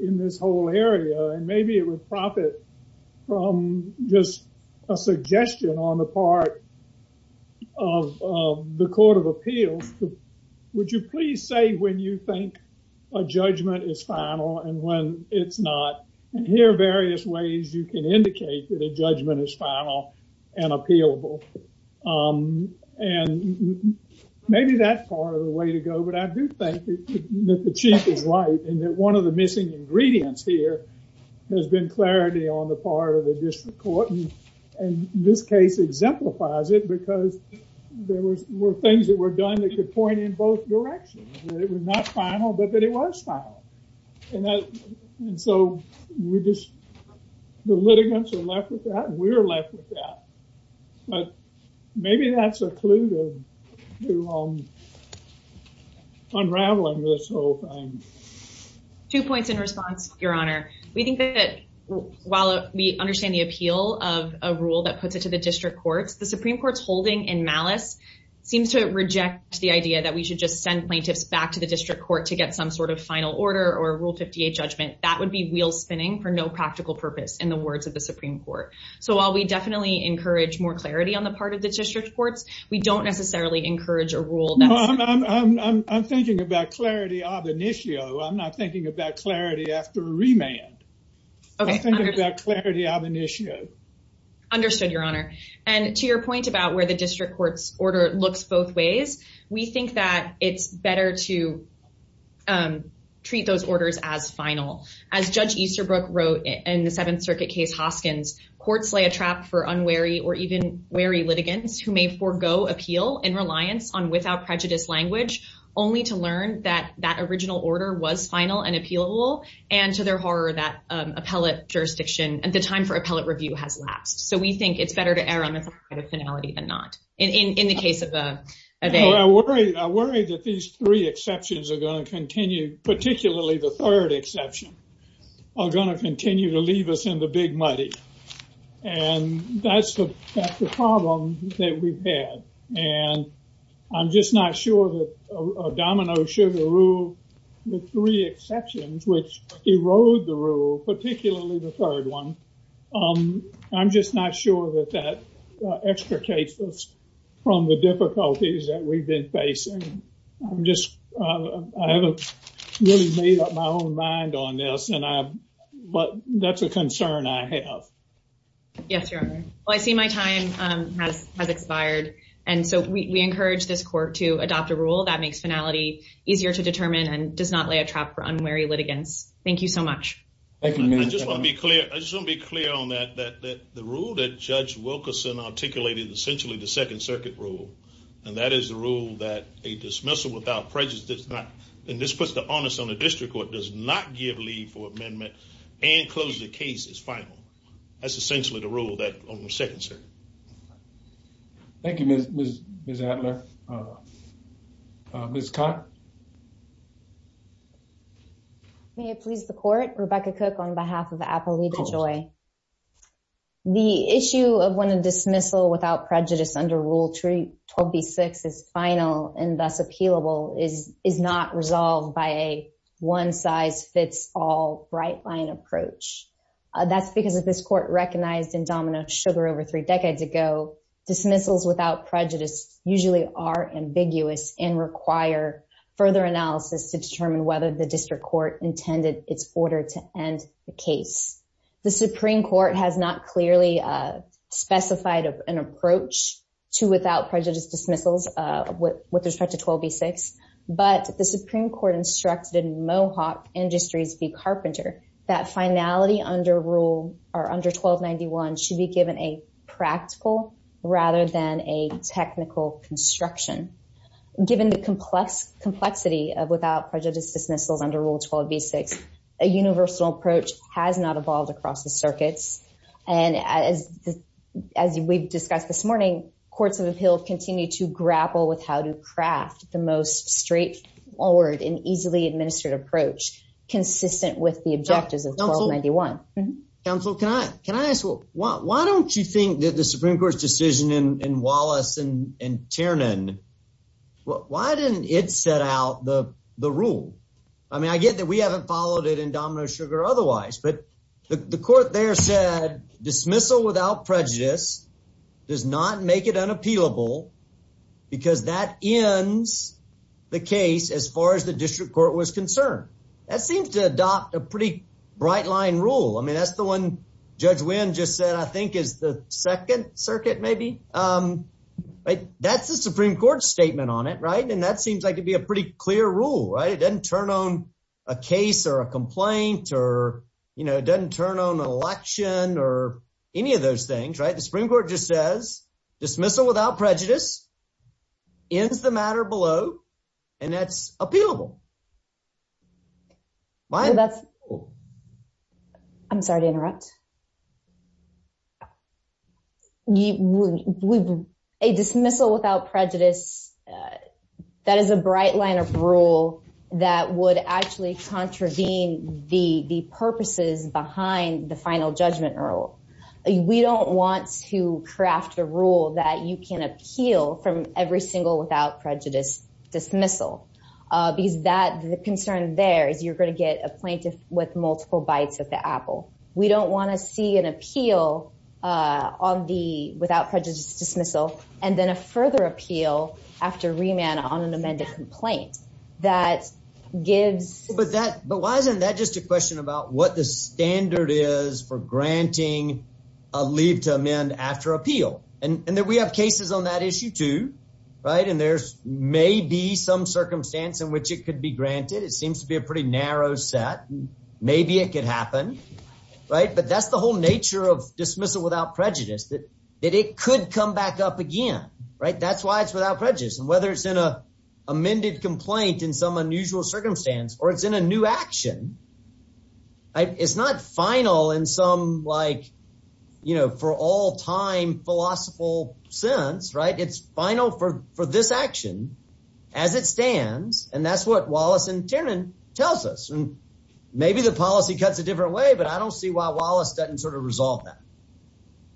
in this whole area and maybe it would profit from just a suggestion on the part of the court of appeal would you please say when you think a judgment is final and when it's not here are various ways you can indicate that a judgment is final and appealable um and maybe that's part of the way to go but i do think that the chief is right and that one of the missing ingredients here has been clarity on the part of the district court and this case exemplifies it because there were things that were done that could point in both directions it was not final but it was final and i so we just the litigants are left with that we're left with that like maybe that's a clue to um unraveling this whole thing two points in response your honor we think that while we understand the appeal of a rule that puts it to the district court the supreme court's holding in malice seems to reject the idea that we should just send plaintiffs back to the district court to get some sort of final order or rule 58 judgment that would be wheel spinning for no practical purpose in the words of the supreme court so while we definitely encourage more clarity on the part of the district court we don't necessarily encourage a rule i'm thinking about clarity of an issue i'm not thinking about clarity after a remand okay understood your honor and to your point about where the district court's order looks both ways we think that it's better to um treat those orders as final as judge easterbrook wrote in the seventh circuit case hoskins courts lay a trap for unwary or even wary litigants who may forego appeal and reliance on without prejudice language only to learn that that original order was final and appealable and to their horror that um appellate jurisdiction and the time for appellate review has so we think it's better to err on the personality than not in in the case of the i worry that these three exceptions are going to continue particularly the third exception are going to continue to leave us in the big money and that's the that's the problem that we've had and i'm just not sure that dominoes sugar rule the three exceptions which erode the particularly the third one um i'm just not sure that that extricates us from the difficulties that we've been facing i'm just i haven't really made up my own mind on this and i but that's a concern i have yes your honor well i see my time um has expired and so we encourage this court to adopt a rule that makes finality easier to determine and does not lay a trap for thank you i just want to be clear i just want to be clear on that that the rule that judge wilkerson articulated essentially the second circuit rule and that is the rule that a dismissal without prejudice does not and this puts the onus on the district court does not give leave for amendment and close the case is final that's essentially the rule that on the second circuit thank you miss miss adler uh miss cott may it please the court rebecca cook on behalf of apple leaf joy the issue of when a dismissal without prejudice under rule 3 12 v 6 is final and thus appealable is is not resolved by a one size fits all bright line approach that's because of this court recognized in domino sugar over three decades ago dismissals without prejudice usually are ambiguous and require further analysis to determine whether the district court intended its order to end the case the supreme court has not clearly uh specified of an approach to without prejudice dismissals uh with respect to 12 v 6 but the supreme court instructed mohawk industries v carpenter that finality under rule are under 12 91 should be given a practical rather than a technical construction given the complex complexity of without prejudice dismissals under rule 12 v 6 a universal approach has not evolved across the circuits and as as we've discussed this morning courts of appeals continue to grapple with how to craft the most straightforward and easily administered approach consistent with the objectives of 12 91 council can i can i ask well why don't you think that the supreme court's decision in wallace and and tiernan why didn't it set out the the rule i mean i get that we haven't followed it in domino sugar otherwise but the court there said dismissal without prejudice does not make it unappealable because that ends the case as far as the district court was concerned that seems to adopt a pretty bright line rule i mean that's the one judge win just said i think is the second circuit maybe um that's the supreme court statement on it right and that seems like it'd be a pretty clear rule right it doesn't turn on a case or a complaint or you know it doesn't turn on an election or any of those things right the supreme court just says dismissal without prejudice ends the matter below and that's appealable i'm sorry to interrupt a dismissal without prejudice that is a bright line of rule that would actually contravene the the purposes behind the final judgment rule we don't want to craft a rule that you can appeal from every single without prejudice dismissal uh because that the concern there is you're going to get a plaintiff with multiple bites at the apple we don't want to see an appeal uh on the without prejudice dismissal and then a further appeal after remand on an amended complaint that gives but that but why isn't that just a question about what the standard is for granting a lead to amend after appeal and and that we have cases on that issue too right and there's maybe some circumstance in which it could be granted it seems to be a pretty narrow set maybe it could happen right but that's the whole nature of dismissal without prejudice that it could come back up again right that's why it's without prejudice and whether it's in a amended complaint in some unusual circumstance or it's in a new action it's not final in some like you know for all time philosophical sense right it's final for for this action as it stands and that's what wallace and chairman tells us and maybe the policy cuts a different way but i don't see why wallace doesn't sort of resolve that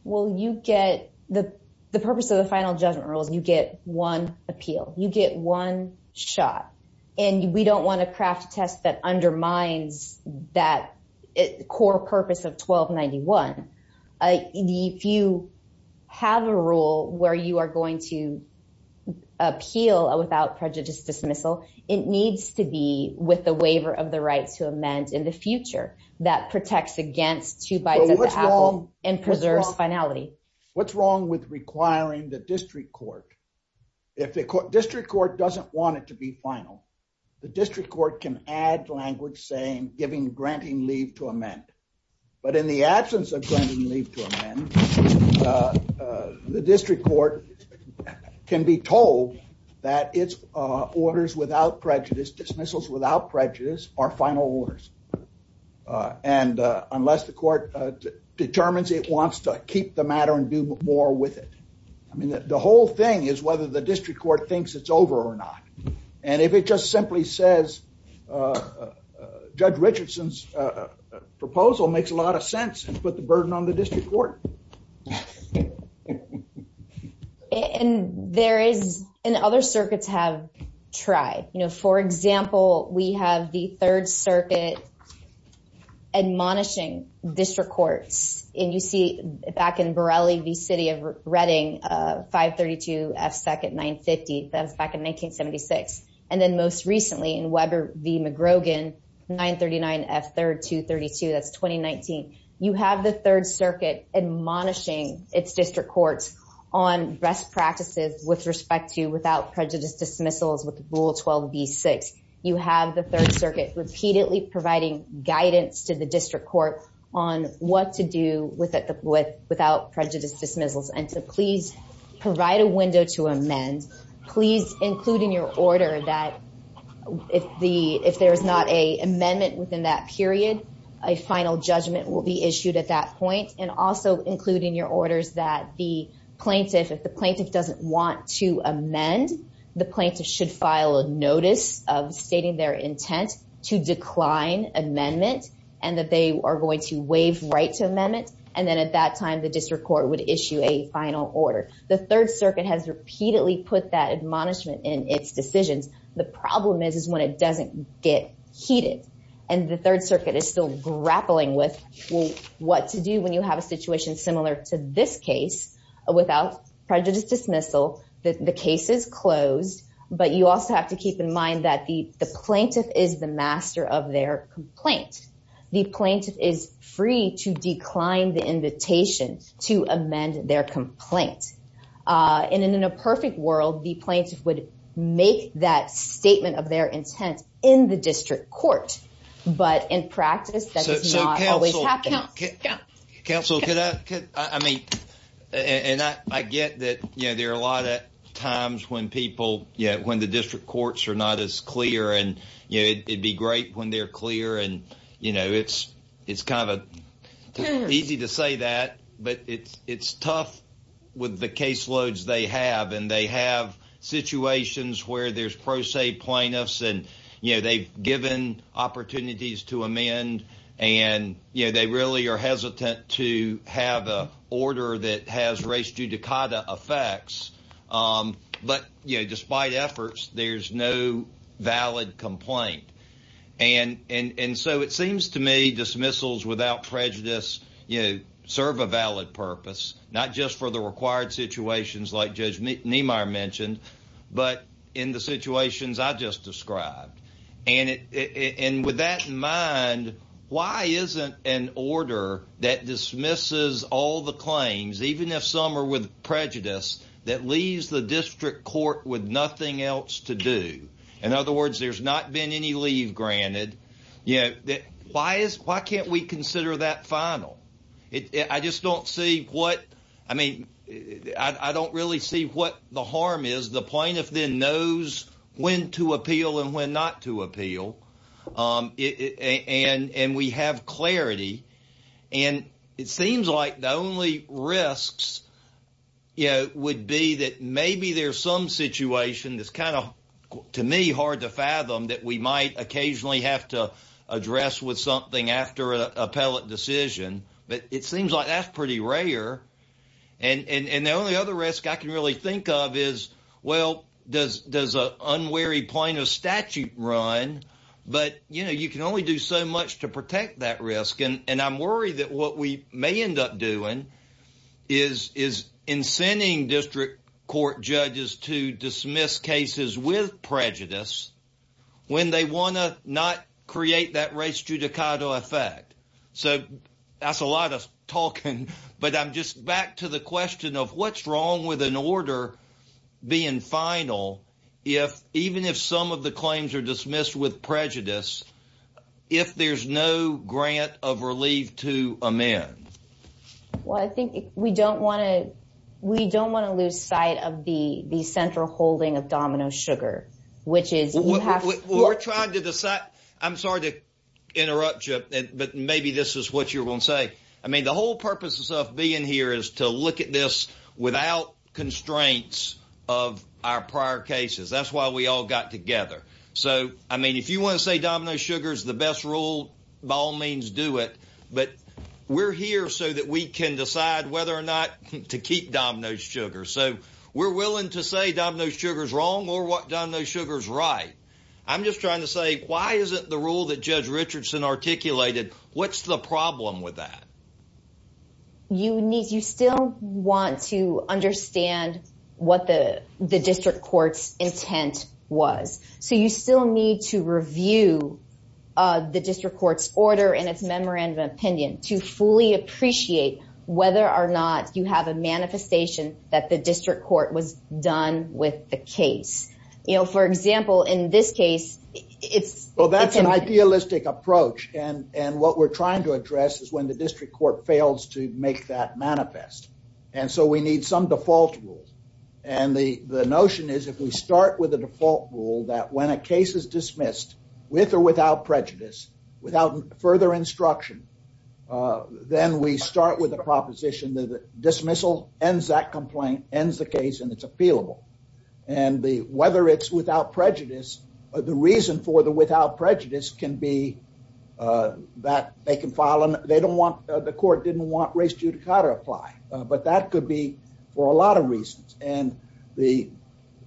well you get the the purpose of the final judgment rule you get one appeal you get one shot and we don't want to craft a test that undermines that core purpose of 1291 if you have a rule where you are going to appeal without prejudice dismissal it needs to be with the waiver of the right to amend in the future that protects against two bites of the apple finality what's wrong with requiring the district court if the district court doesn't want it to be final the district court can add language saying giving granting leave to amend but in the absence of going to leave to amend the district court can be told that its uh orders without prejudice dismissals without prejudice are final orders and unless the court determines it wants to keep the matter and do more with it i mean the whole thing is whether the district court thinks it's over or not and if it just simply says uh judge richardson's proposal makes a lot of sense and put the burden on the district court and there is and other circuits have tried you know for example we have the third circuit admonishing district courts and you see back in borrelli the city of redding uh 532 f second 950s back in 1976 and then most recently in weber v mcgrogan 939 f third 232 that's 2019 you have the third circuit admonishing its district courts on best you have the third circuit repeatedly providing guidance to the district court on what to do with it with without prejudice dismissals and to please provide a window to amend please including your order that if the if there's not a amendment within that period a final judgment will be issued at that point and also including your orders that the plaintiff if the plaintiff doesn't want to stating their intent to decline amendment and that they are going to waive right to amendment and then at that time the district court would issue a final order the third circuit has repeatedly put that admonishment in its decision the problem is is when it doesn't get heated and the third circuit is still grappling with what to do when you have a situation similar to this case without prejudice dismissal the case is closed but you also have to keep in mind that the the plaintiff is the master of their complaint the plaintiff is free to decline the invitation to amend their complaint uh and in a perfect world the plaintiff would make that statement of their intent in the district court but in practice that does not always happen counsel can i i mean and i i get that you know there are a lot of times when people yeah when the district courts are not as clear and you know it'd be great when they're clear and you know it's it's kind of easy to say that but it's it's tough with the caseloads they have and they have situations where there's pro se plaintiffs and you know they've given opportunities to amend and you know they really are hesitant to have a order that has race judicata effects but you know despite efforts there's no valid complaint and and and so it seems to me dismissals without prejudice you know serve a valid purpose not just for the required situations like judge why isn't an order that dismisses all the claims even if some are with prejudice that leaves the district court with nothing else to do in other words there's not been any leave granted yeah why is why can't we consider that final i just don't see what i mean i i don't really see what the harm is the plaintiff then knows when to appeal and when not to appeal um and and we have clarity and it seems like the only risks you know would be that maybe there's some situation that's kind of to me hard to fathom that we might occasionally have to address with something after a appellate decision but it seems like that's pretty rare and and and the only other risk i can really think of is well there's there's a unwary point of statute run but you know you can only do so much to protect that risk and and i'm worried that what we may end up doing is is incenting district court judges to dismiss cases with prejudice when they want to not create that race judicata effect so that's a lot of talking but i'm just back to the question of what's wrong with an order being final if even if some of the claims are dismissed with prejudice if there's no grant of relief to amend well i think we don't want to we don't want to lose sight of the the central holding of domino sugar which is we're trying to decide i'm sorry to interrupt you but maybe this is what you're saying i mean the whole purpose of being here is to look at this without constraints of our prior cases that's why we all got together so i mean if you want to say domino sugar is the best rule by all means do it but we're here so that we can decide whether or not to keep domino sugar so we're willing to say domino sugar is wrong or what domino sugar is right i'm just trying to say why isn't the rule that judge richardson articulated what's the problem with that you need you still want to understand what the the district court's intent was so you still need to review uh the district court's order and its memorandum of opinion to fully appreciate whether or not you have a manifestation that the district court was done with the case you know for example in this case it's well that's an idealistic approach and and what we're trying to address is when the district court fails to make that manifest and so we need some default rule and the the notion is if we start with the default rule that when a case is dismissed with or without prejudice without further instruction uh then we start with a proposition that the dismissal ends that complaint ends the case and it's appealable and the whether it's without prejudice or the reason for the without prejudice can be uh that they can file and they don't want the court didn't want race judicata to apply but that could be for a lot of reasons and the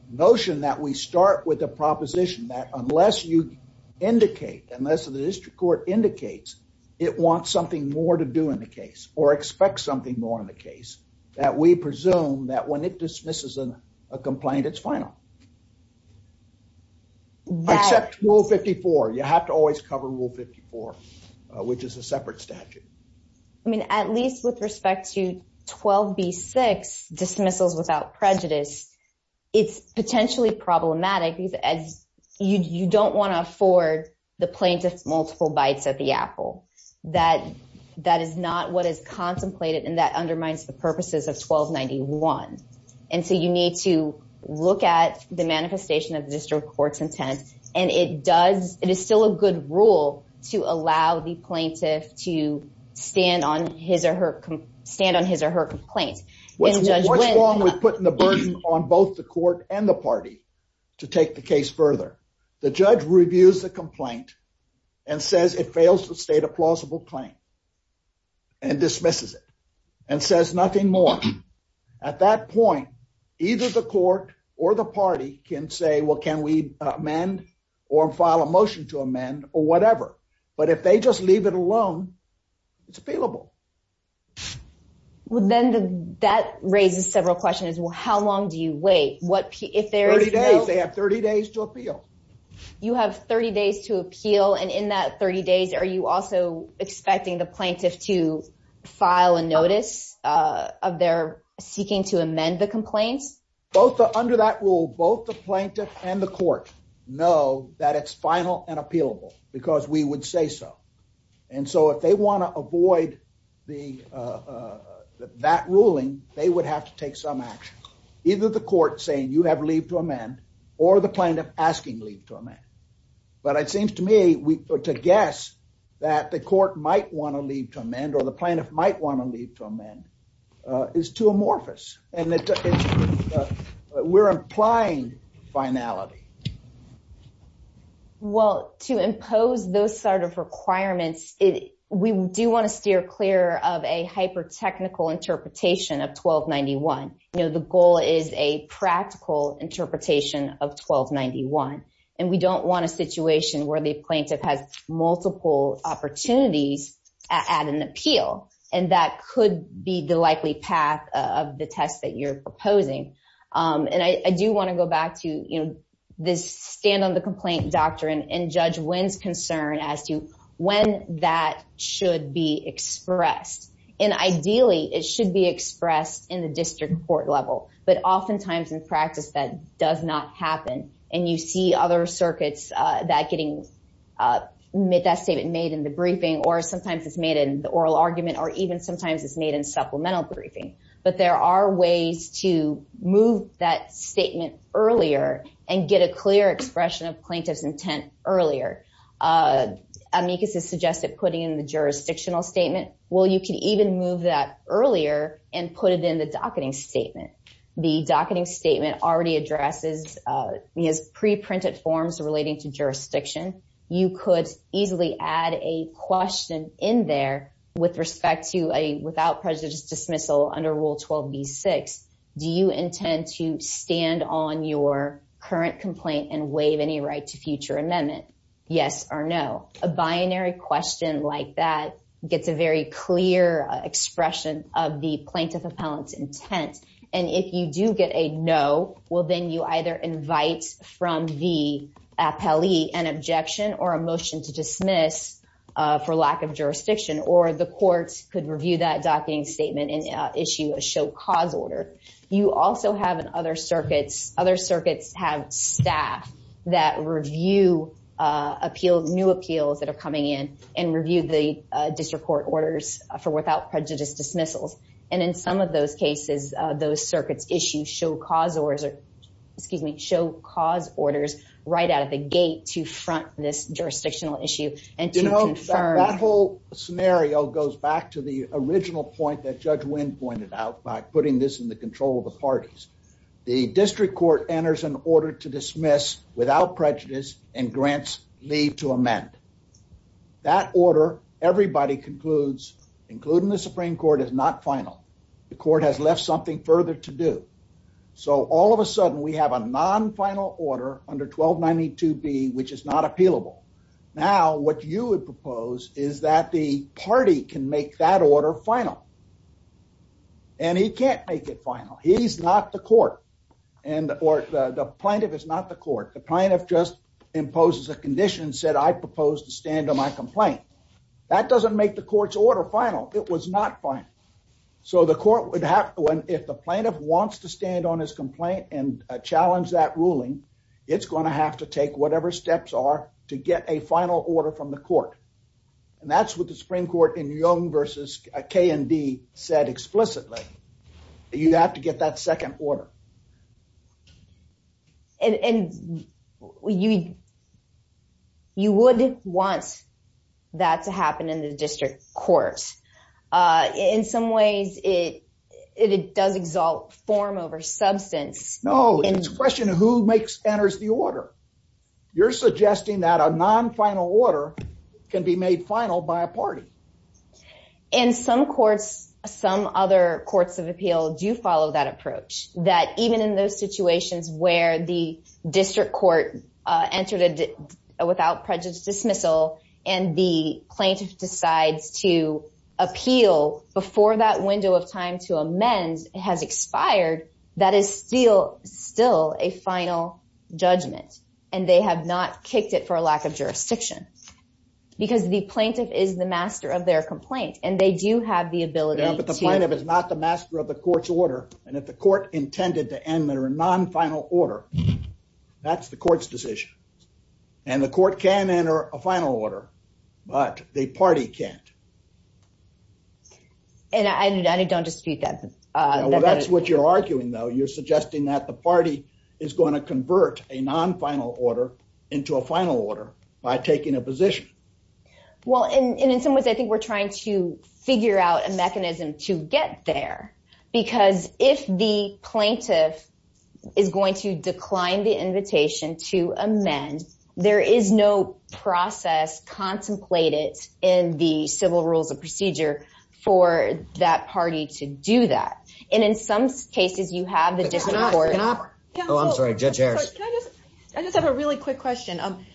notion that we start with a proposition that unless you indicate unless the district court indicates it wants something more to do in the case or expect something more in the case that we presume that when it dismisses a complaint it's final except rule 54 you have to always cover rule 54 which is a separate statute i mean at least with respect to 12b6 dismissals without prejudice it's potentially problematic you don't want to afford the plaintiff multiple bites at the apple that that is not what is contemplated and that undermines the purposes of 1291 and so you need to look at the manifestation of district court's intent and it does it is still a good rule to allow the plaintiff to stand on his or her stand on his or her complaint when we're putting the burden on both the court and the party to take the case further the judge reviews the complaint and says it fails to state a plausible claim and dismisses it and says nothing more at that point either the court or the party can say well can we amend or file a motion to amend or whatever but if they just leave it alone it's feelable well then that raises several questions well how long do you wait what if they're 30 days they have you have 30 days to appeal and in that 30 days are you also expecting the plaintiff to file a notice uh of their seeking to amend the complaint both under that rule both the plaintiff and the court know that it's final and appealable because we would say so and so if they want to avoid the uh that ruling they would have to take some actions either the court saying you have or the plaintiff asking leave to amend but it seems to me to guess that the court might want to leave to amend or the plaintiff might want to leave to amend is too amorphous and we're implying finality well to impose those sort of requirements it we do want to steer clear of a interpretation of 1291 and we don't want a situation where the plaintiff has multiple opportunities at an appeal and that could be the likely path of the test that you're proposing and I do want to go back to you know this stand on the complaint doctrine and judge wins concern as to when that should be expressed and ideally it should be expressed in the district court level but oftentimes in practice that does not happen and you see other circuits uh that getting uh that statement made in the briefing or sometimes it's made in the oral argument or even sometimes it's made in supplemental briefing but there are ways to move that statement earlier and get a clear expression of plaintiff's intent earlier uh amicus has suggested putting in the the docketing statement already addresses uh we have pre-printed forms relating to jurisdiction you could easily add a question in there with respect to a without prejudice dismissal under rule 12b6 do you intend to stand on your current complaint and waive any right to future amendment yes or no a binary question like that gets a very clear expression of the plaintiff's intent and if you do get a no well then you either invite from the appellee an objection or a motion to dismiss uh for lack of jurisdiction or the courts could review that docketing statement and issue a show cause order you also have in other circuits other circuits have staff that review appeal new appeals that are coming in and review the district court orders for without prejudice dismissals and in some of those cases uh those circuit issues show cause or excuse me show cause orders right out of the gate to front this jurisdictional issue and you know that whole scenario goes back to the original point that judge win pointed out by putting this in the control of the parties the district court enters an order to dismiss without prejudice and grants leave to amend that order everybody concludes including the supreme court is not final the court has left something further to do so all of a sudden we have a non-final order under 1292b which is not appealable now what you would propose is that the party can make that order final and he can't make it final he's not the court and or the plaintiff is not the court the plaintiff just imposes a condition said i propose to stand on my complaint that doesn't make the court's order final it was not fine so the court would have if the plaintiff wants to stand on his complaint and challenge that ruling it's going to have to take whatever steps are to get a final order from the court and that's what the supreme court in young versus k and d said explicitly you have to get that second order and and you you wouldn't want that to happen in the district courts uh in some ways it it does exalt form over substance no it's a question who makes enters the order you're suggesting that a non-final order can be made final by a party in some courts some other courts of appeal do follow that approach that even in those situations where the district court uh entered it without prejudice dismissal and the plaintiff decides to appeal before that window of time to amend has expired that is still still a final judgment and they have not kicked it for a lack of jurisdiction because the plaintiff is the master of their complaint and they do have the ability the plaintiff is not the master of the court's order and if the court intended to end their non-final order that's the court's decision and the court can enter a final order but the party can't and i don't dispute that uh that's what you're arguing though you're suggesting that the party is going to convert a non-final order into a final order by taking a position well and in some ways i think we're trying to figure out a mechanism to get there because if the plaintiff is going to decline the invitation to amend there is no process contemplated in the civil rules of procedure for that party to do that and in some cases you have the different court i just have a really quick question um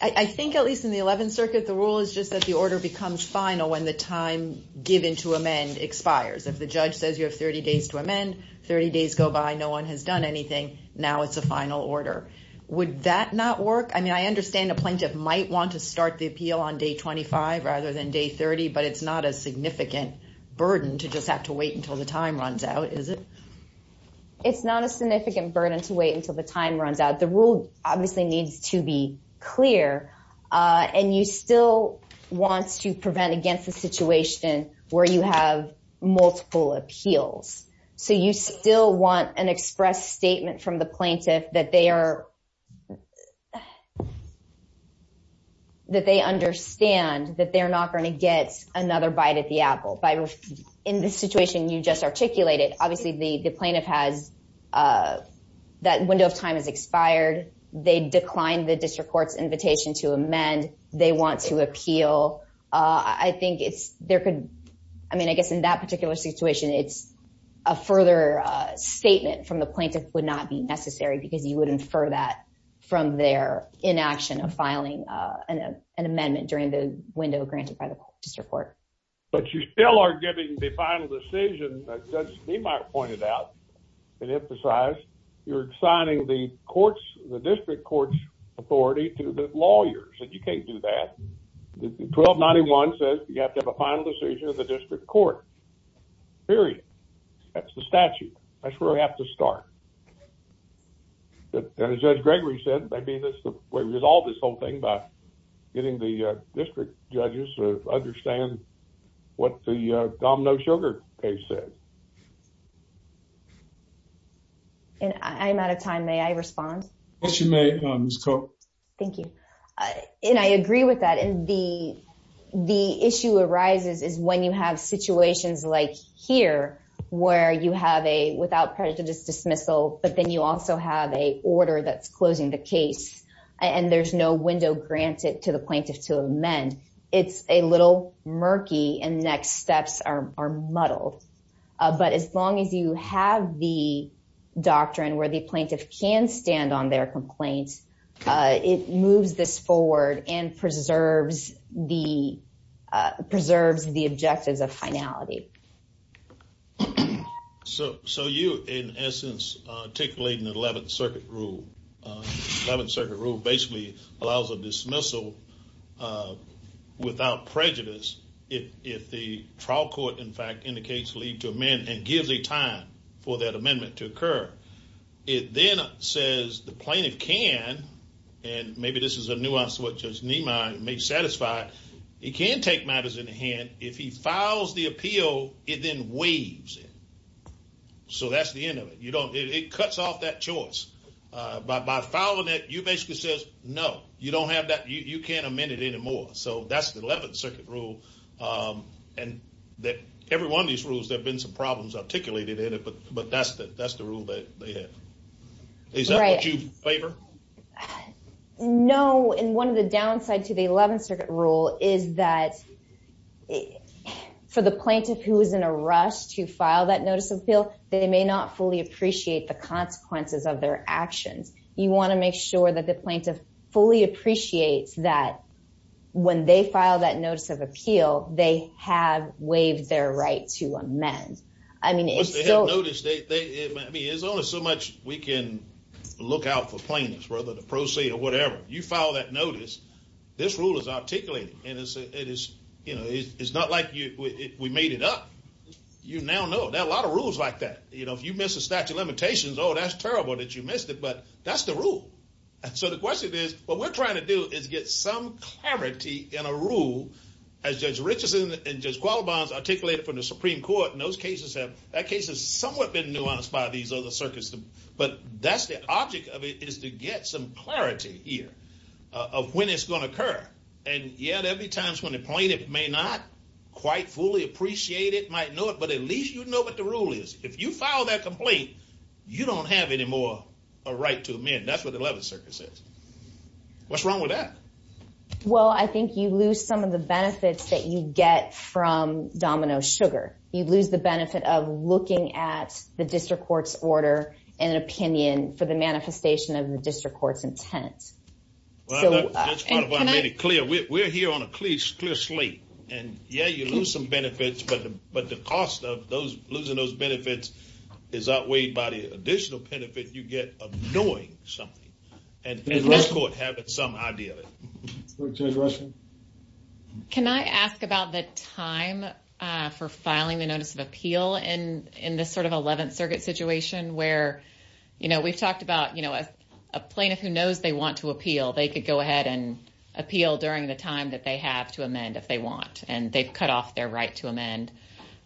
i think at least in the 11th circuit the rule is just that the order becomes final when the time given to amend expires if the judge says you have 30 days to amend 30 days go by no one has done anything now it's a final order would that not work i mean i understand a plaintiff might want to start the appeal on day 25 rather than day 30 but it's not a significant burden to just have to wait until the time runs out is it it's not a significant burden to wait until the time runs out the rule obviously needs to be clear and you still want to prevent against a situation where you have multiple appeals so you still want an express statement from the plaintiff that they are that they understand that they're not going to get another bite at the apple but in this situation you just articulated obviously the the plaintiff has uh that window of time has expired they declined the district court's invitation to amend they want to appeal uh i think it's there could i mean i guess in that particular situation it's a further uh statement from the inaction of filing uh an amendment during the window granted by the district court but you still are giving the final decision that judge demark pointed out and emphasized you're assigning the courts the district court's authority to the lawyers that you can't do that 1291 says you have to have a final decision of the district court period that's the statute that's where i have to start but as judge gregory said maybe this will resolve this whole thing by getting the uh district judges to understand what the uh domino sugar case said and i'm out of time may i respond what's your name miss coke thank you and i agree with that and the the issue arises is when you have situations like here where you have a without prejudice dismissal but then you also have a order that's closing the case and there's no window granted to the plaintiff to amend it's a little murky and next steps are muddled but as long as you have the doctrine where the plaintiff can stand on their complaints uh it moves this in essence articulating the 11th circuit rule 11th circuit rule basically allows a dismissal without prejudice if if the trial court in fact indicates lead to amend and give the time for that amendment to occur it then says the plaintiff can and maybe this is a nuance what judge neiman may satisfy he can take matters into hand if he files the appeal it then waives it so that's the end of it you don't it cuts off that choice uh by following it you basically says no you don't have that you can't amend it anymore so that's the 11th circuit rule um and that every one of these rules there have been some problems articulated in it but but that's the that's the rule that they have is that what you favor no and one of the downside to the 11th circuit rule is that for the plaintiff who is in a rush to file that notice of appeal they may not fully appreciate the consequences of their action you want to make sure that the plaintiff fully appreciates that when they file that notice of appeal they have waived their right to amend i mean they have noticed they i mean there's only so much we can look out for plaintiffs whether you file that notice this rule is articulated and it's it is you know it's not like you we made it up you now know that a lot of rules like that you know if you miss a statute of limitations oh that's terrible that you missed it but that's the rule and so the question is what we're trying to do is get some clarity in a rule as judge richardson and just qualifies articulate from the supreme court in those cases have that case has somewhat been nuanced by these other circuits but that's the object of it is to get some clarity here of when it's going to occur and yet every time it's going to point it may not quite fully appreciate it might know it but at least you know what the rule is if you file that complaint you don't have any more a right to amend that's what the 11th circuit says what's wrong with that well i think you lose some of the benefits that you get from domino sugar you lose the benefit of looking at the district court's order and opinion for the manifestation of the district court's intent well that's kind of why i made it clear we're here on a clear slate and yeah you lose some benefits but but the cost of those losing those benefits is outweighed by the additional benefit you get of doing something and having some idea question can i ask about the time uh for filing the notice of appeal and in this sort of 11th circuit situation where you know we've talked about you know a plaintiff who knows they want to appeal they could go ahead and appeal during the time that they have to amend if they want and they've cut off their right to amend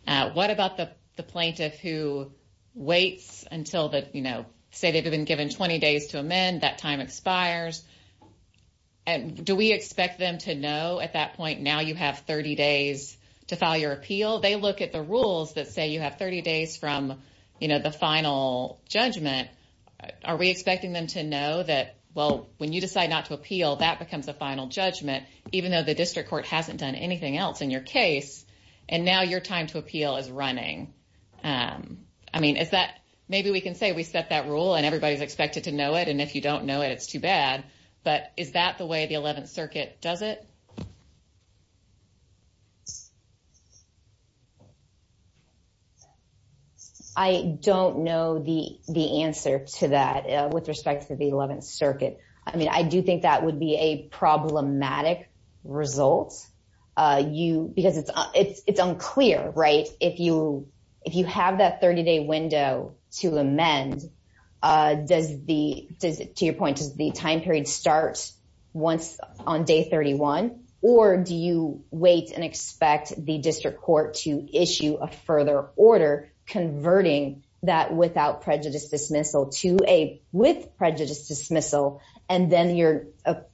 uh what about the plaintiff who waits until the you know say they've been given 20 days to amend that time expires and do we expect them to know at that point now you have 30 days to file your appeal they look at the rules that say you have 30 days from you know the final judgment are we expecting them to know that well when you decide not to appeal that becomes the final judgment even though the district court hasn't done anything else in your case and now your time to appeal is running um i mean is that maybe we can say we set that rule and everybody's expected to know it and if you don't know it's too bad but is that the way the 11th circuit does it i don't know the the answer to that with respect to the 11th circuit i mean i do think that would a problematic result uh you because it's it's unclear right if you if you have that 30-day window to amend uh does the to your point to the time period starts once on day 31 or do you wait and expect the district court to issue a further order converting that without prejudice dismissal to a with prejudice dismissal and then your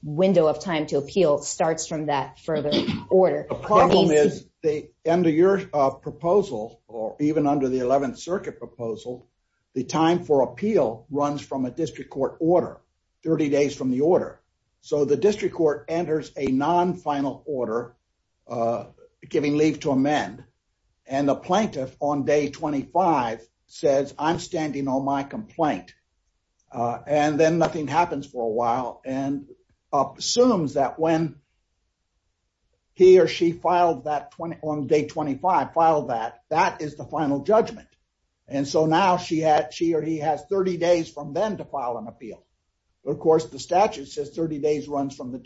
window of time to appeal starts from that further order the problem is they under your uh proposal or even under the 11th circuit proposal the time for appeal runs from a district court order 30 days from the order so the district court enters a non-final order uh giving leave to amend and the plaintiff on day 25 says i'm standing on my complaint uh and then nothing happens for a while and assumes that when he or she filed that 20 on day 25 file that that is the final judgment and so now she had she or he has 30 days from then to file an appeal of course the statute says 30 days runs from the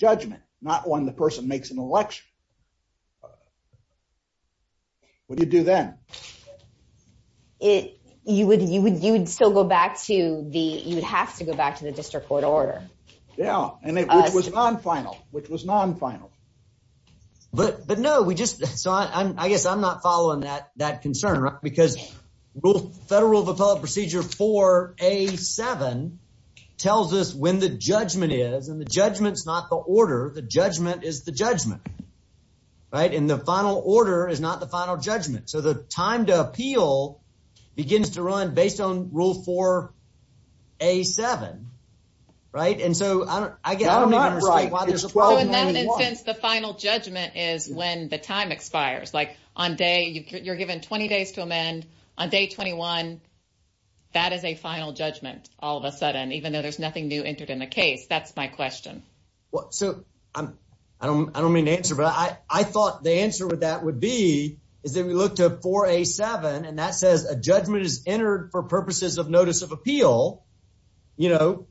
you would you would you would still go back to the you have to go back to the district court order yeah and it was non-final which was non-final but but no we just saw i'm i guess i'm not following that that concern because rule federal of appellate procedure 4 a 7 tells us when the judgment is and the judgment's not the order the judgment is the judgment right and the final order is not the final judgment so the time to appeal begins to run based on rule 4 a 7 right and so i don't i get the final judgment is when the time expires like on day you're given 20 days to amend on day 21 that is a final judgment all of a sudden even though there's nothing new entered in the case that's my question well so i'm i don't i don't mean to answer but i i thought the answer would that would be is if we look to 4 a 7 and that says a judgment is entered for purposes of notice of appeal you know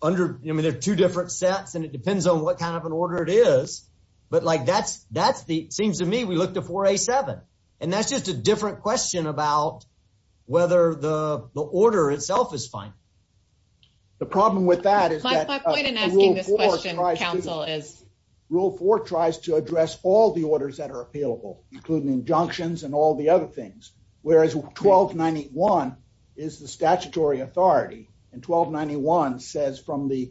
under i mean there's two different sets and it depends on what kind of an order it is but like that's that's the seems to me we look to 4 a 7 and that's just a different question about whether the the order itself is fine the problem with that is my point in asking this question counsel is rule 4 tries to address all the orders that are appealable including injunctions and all the other things whereas 1291 is the statutory authority and 1291 says from the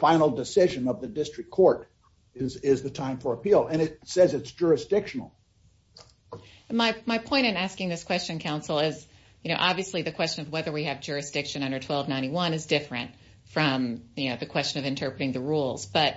final decision of the district court is is the time for appeal and it says it's jurisdictional my my point in asking this question counsel is you know obviously the question of whether we have jurisdiction under 1291 is different from you know the question of interpreting the rules but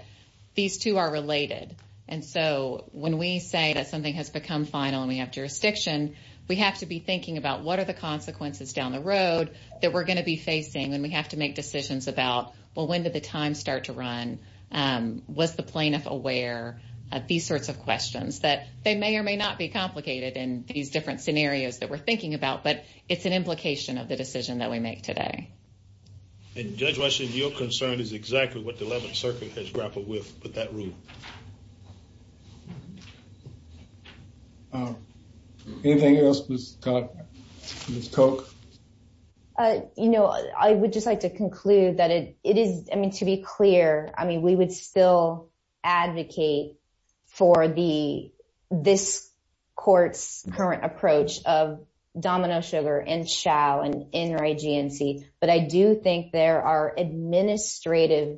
these two are related and so when we say that something has become final and we have jurisdiction we have to be thinking about what are the consequences down the road that we're going to be facing and we have to make decisions about well when did the time start to run um was the plaintiff aware of these sorts of questions that they may or may not be complicated in these different scenarios that we're thinking about but it's an implication of the decision that we make today and judge rush is your concern is exactly what the 11th circuit has grappled with with that rule anything else miss coke uh you know i would just like to conclude that it it is to be clear i mean we would still advocate for the this court's current approach of domino sugar and shall and in right gnc but i do think there are administrative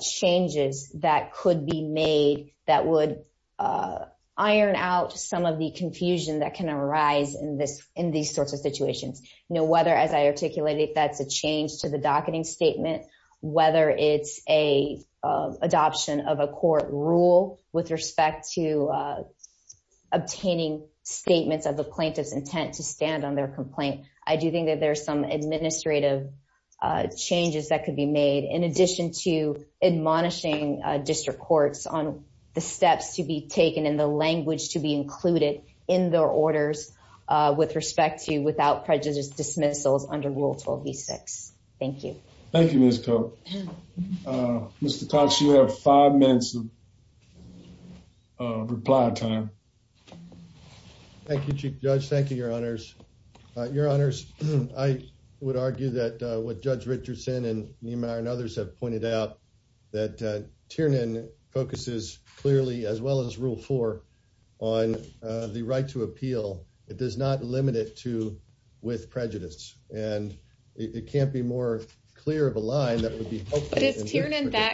changes that could be made that would uh iron out some of the confusion that can arise in this in these sorts of situations you know whether as i articulated that the change to the docketing whether it's a adoption of a court rule with respect to obtaining statements of the plaintiff's intent to stand on their complaint i do think that there's some administrative changes that could be made in addition to admonishing district courts on the steps to be taken and the language to be included in their orders with respect to without prejudice dismissal under rule 126 thank you thank you miss coke uh mr cox you have five minutes of reply time thank you judge thank you your honors uh your honors i would argue that uh what judge richardson and neymar and others have pointed out that uh tiernan focuses clearly as well as rule four on the right to appeal it does not limit it to with prejudice and it can't be more clear of a line that would be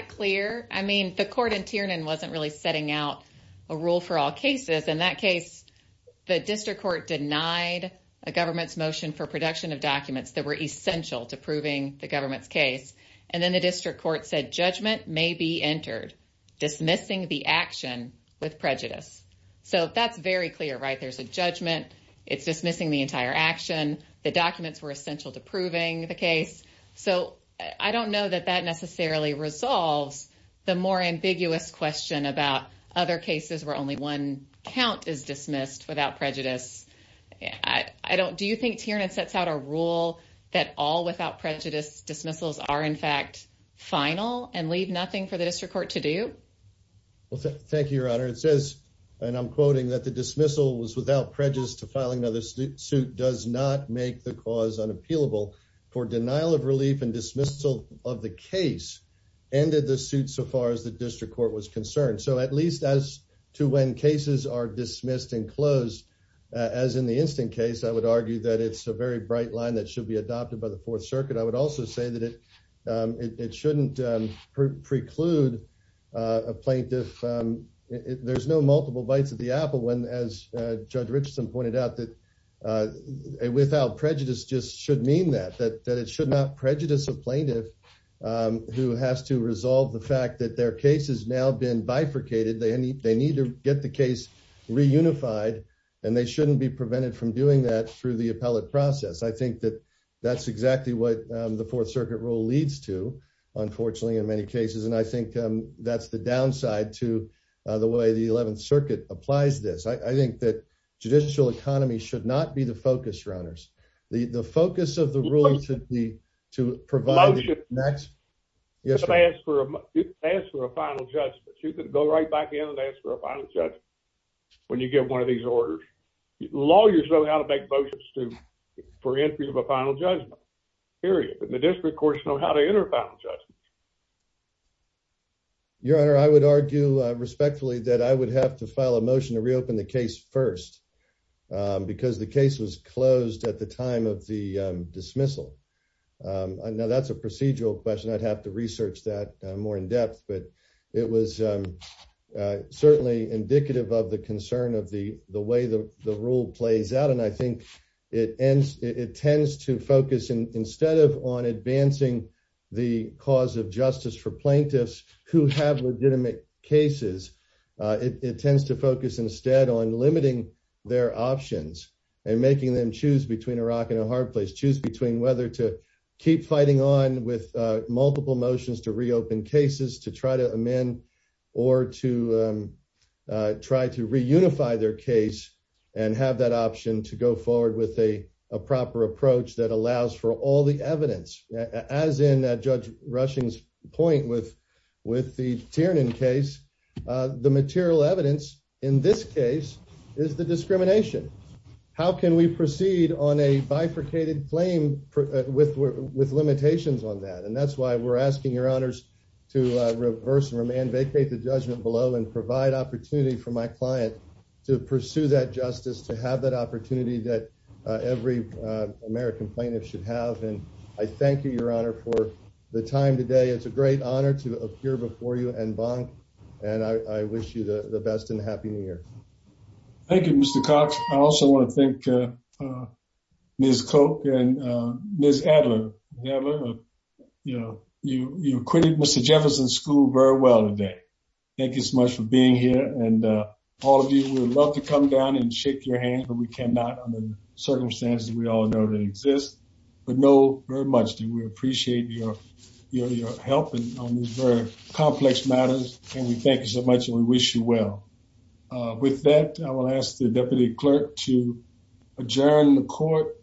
clear i mean the court in tiernan wasn't really setting out a rule for all cases in that case the district court denied a government's motion for production of documents that were essential to proving the government's case and then the district court said judgment may be entered dismissing the action with prejudice so that's very clear right there's a judgment it's dismissing the entire action the documents were essential to proving the case so i don't know that that necessarily resolves the more ambiguous question about other cases where only one count is dismissed without prejudice i i don't do you think tiernan sets out a rule that all without prejudice dismissals are in fact final and leave nothing for the district court to do okay thank you your honor it says and i'm quoting that the dismissal was without prejudice to filing another suit does not make the cause unappealable for denial of relief and dismissal of the case ended the suit so far as the district court was concerned so at least as to when cases are dismissed and closed as in the instant case i would argue that it's a very bright line that should be adopted by the fourth circuit i would also say that it it shouldn't preclude a plaintiff there's no multiple bites of the apple when as judge richardson pointed out that without prejudice just should mean that that it should not prejudice a plaintiff who has to resolve the fact that their case has now been bifurcated they need they need to get the case reunified and they shouldn't be prevented from doing that through the appellate process i think that that's exactly what the fourth circuit rule leads to unfortunately in many cases and i think that's the downside to the way the 11th circuit applies this i think that judicial economy should not be the focus runners the the focus of the ruling to the to provide next yes ask for a final judgment you can go right back in and ask for a final judgment when you get one of these orders lawyers know how to make motions to for entry of a final judgment period the district courts know how to enter final judgments your honor i would argue respectfully that i would have to file a motion to reopen the case first because the case was closed at the time of the dismissal now that's a procedural question i'd have to research that more in depth but it was certainly indicative of the concern of the the way the the rule plays out and i think it ends it tends to focus instead of on advancing the cause of justice for plaintiffs who have legitimate cases it tends to focus instead on limiting their options and making them choose between a rock and a hard place choose between whether to keep fighting on with multiple motions to reopen cases to try to amend or to try to reunify their case and have that option to go forward with a a proper approach that allows for all the evidence as in that judge russian's point with with the tiernan case the material evidence in this case is the discrimination how can we proceed on a bifurcated flame with with limitations on that and that's why we're asking your honors to reverse and remand vacate the judgment below and provide opportunity for my client to pursue that justice to have that opportunity that every american plaintiff should have and i thank you your honor for the time today it's a great honor to appear before you and bond and i i wish you the best and happy new year thank you mr cox i also want to thank uh uh ms coke and uh ms adler you know you you acquitted mr jefferson's school very well today thank you so much for being here and uh all of you would love to come down and shake your hands but we cannot under the circumstances we all know exist but know very much that we appreciate your your your help and on these very complex matters and we thank you so much and we wish you well uh with that i will ask the deputy clerk to adjourn the court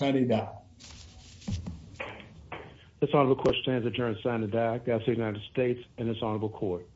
this honorable question has adjourned sign the doc that's the united states and it's honorable court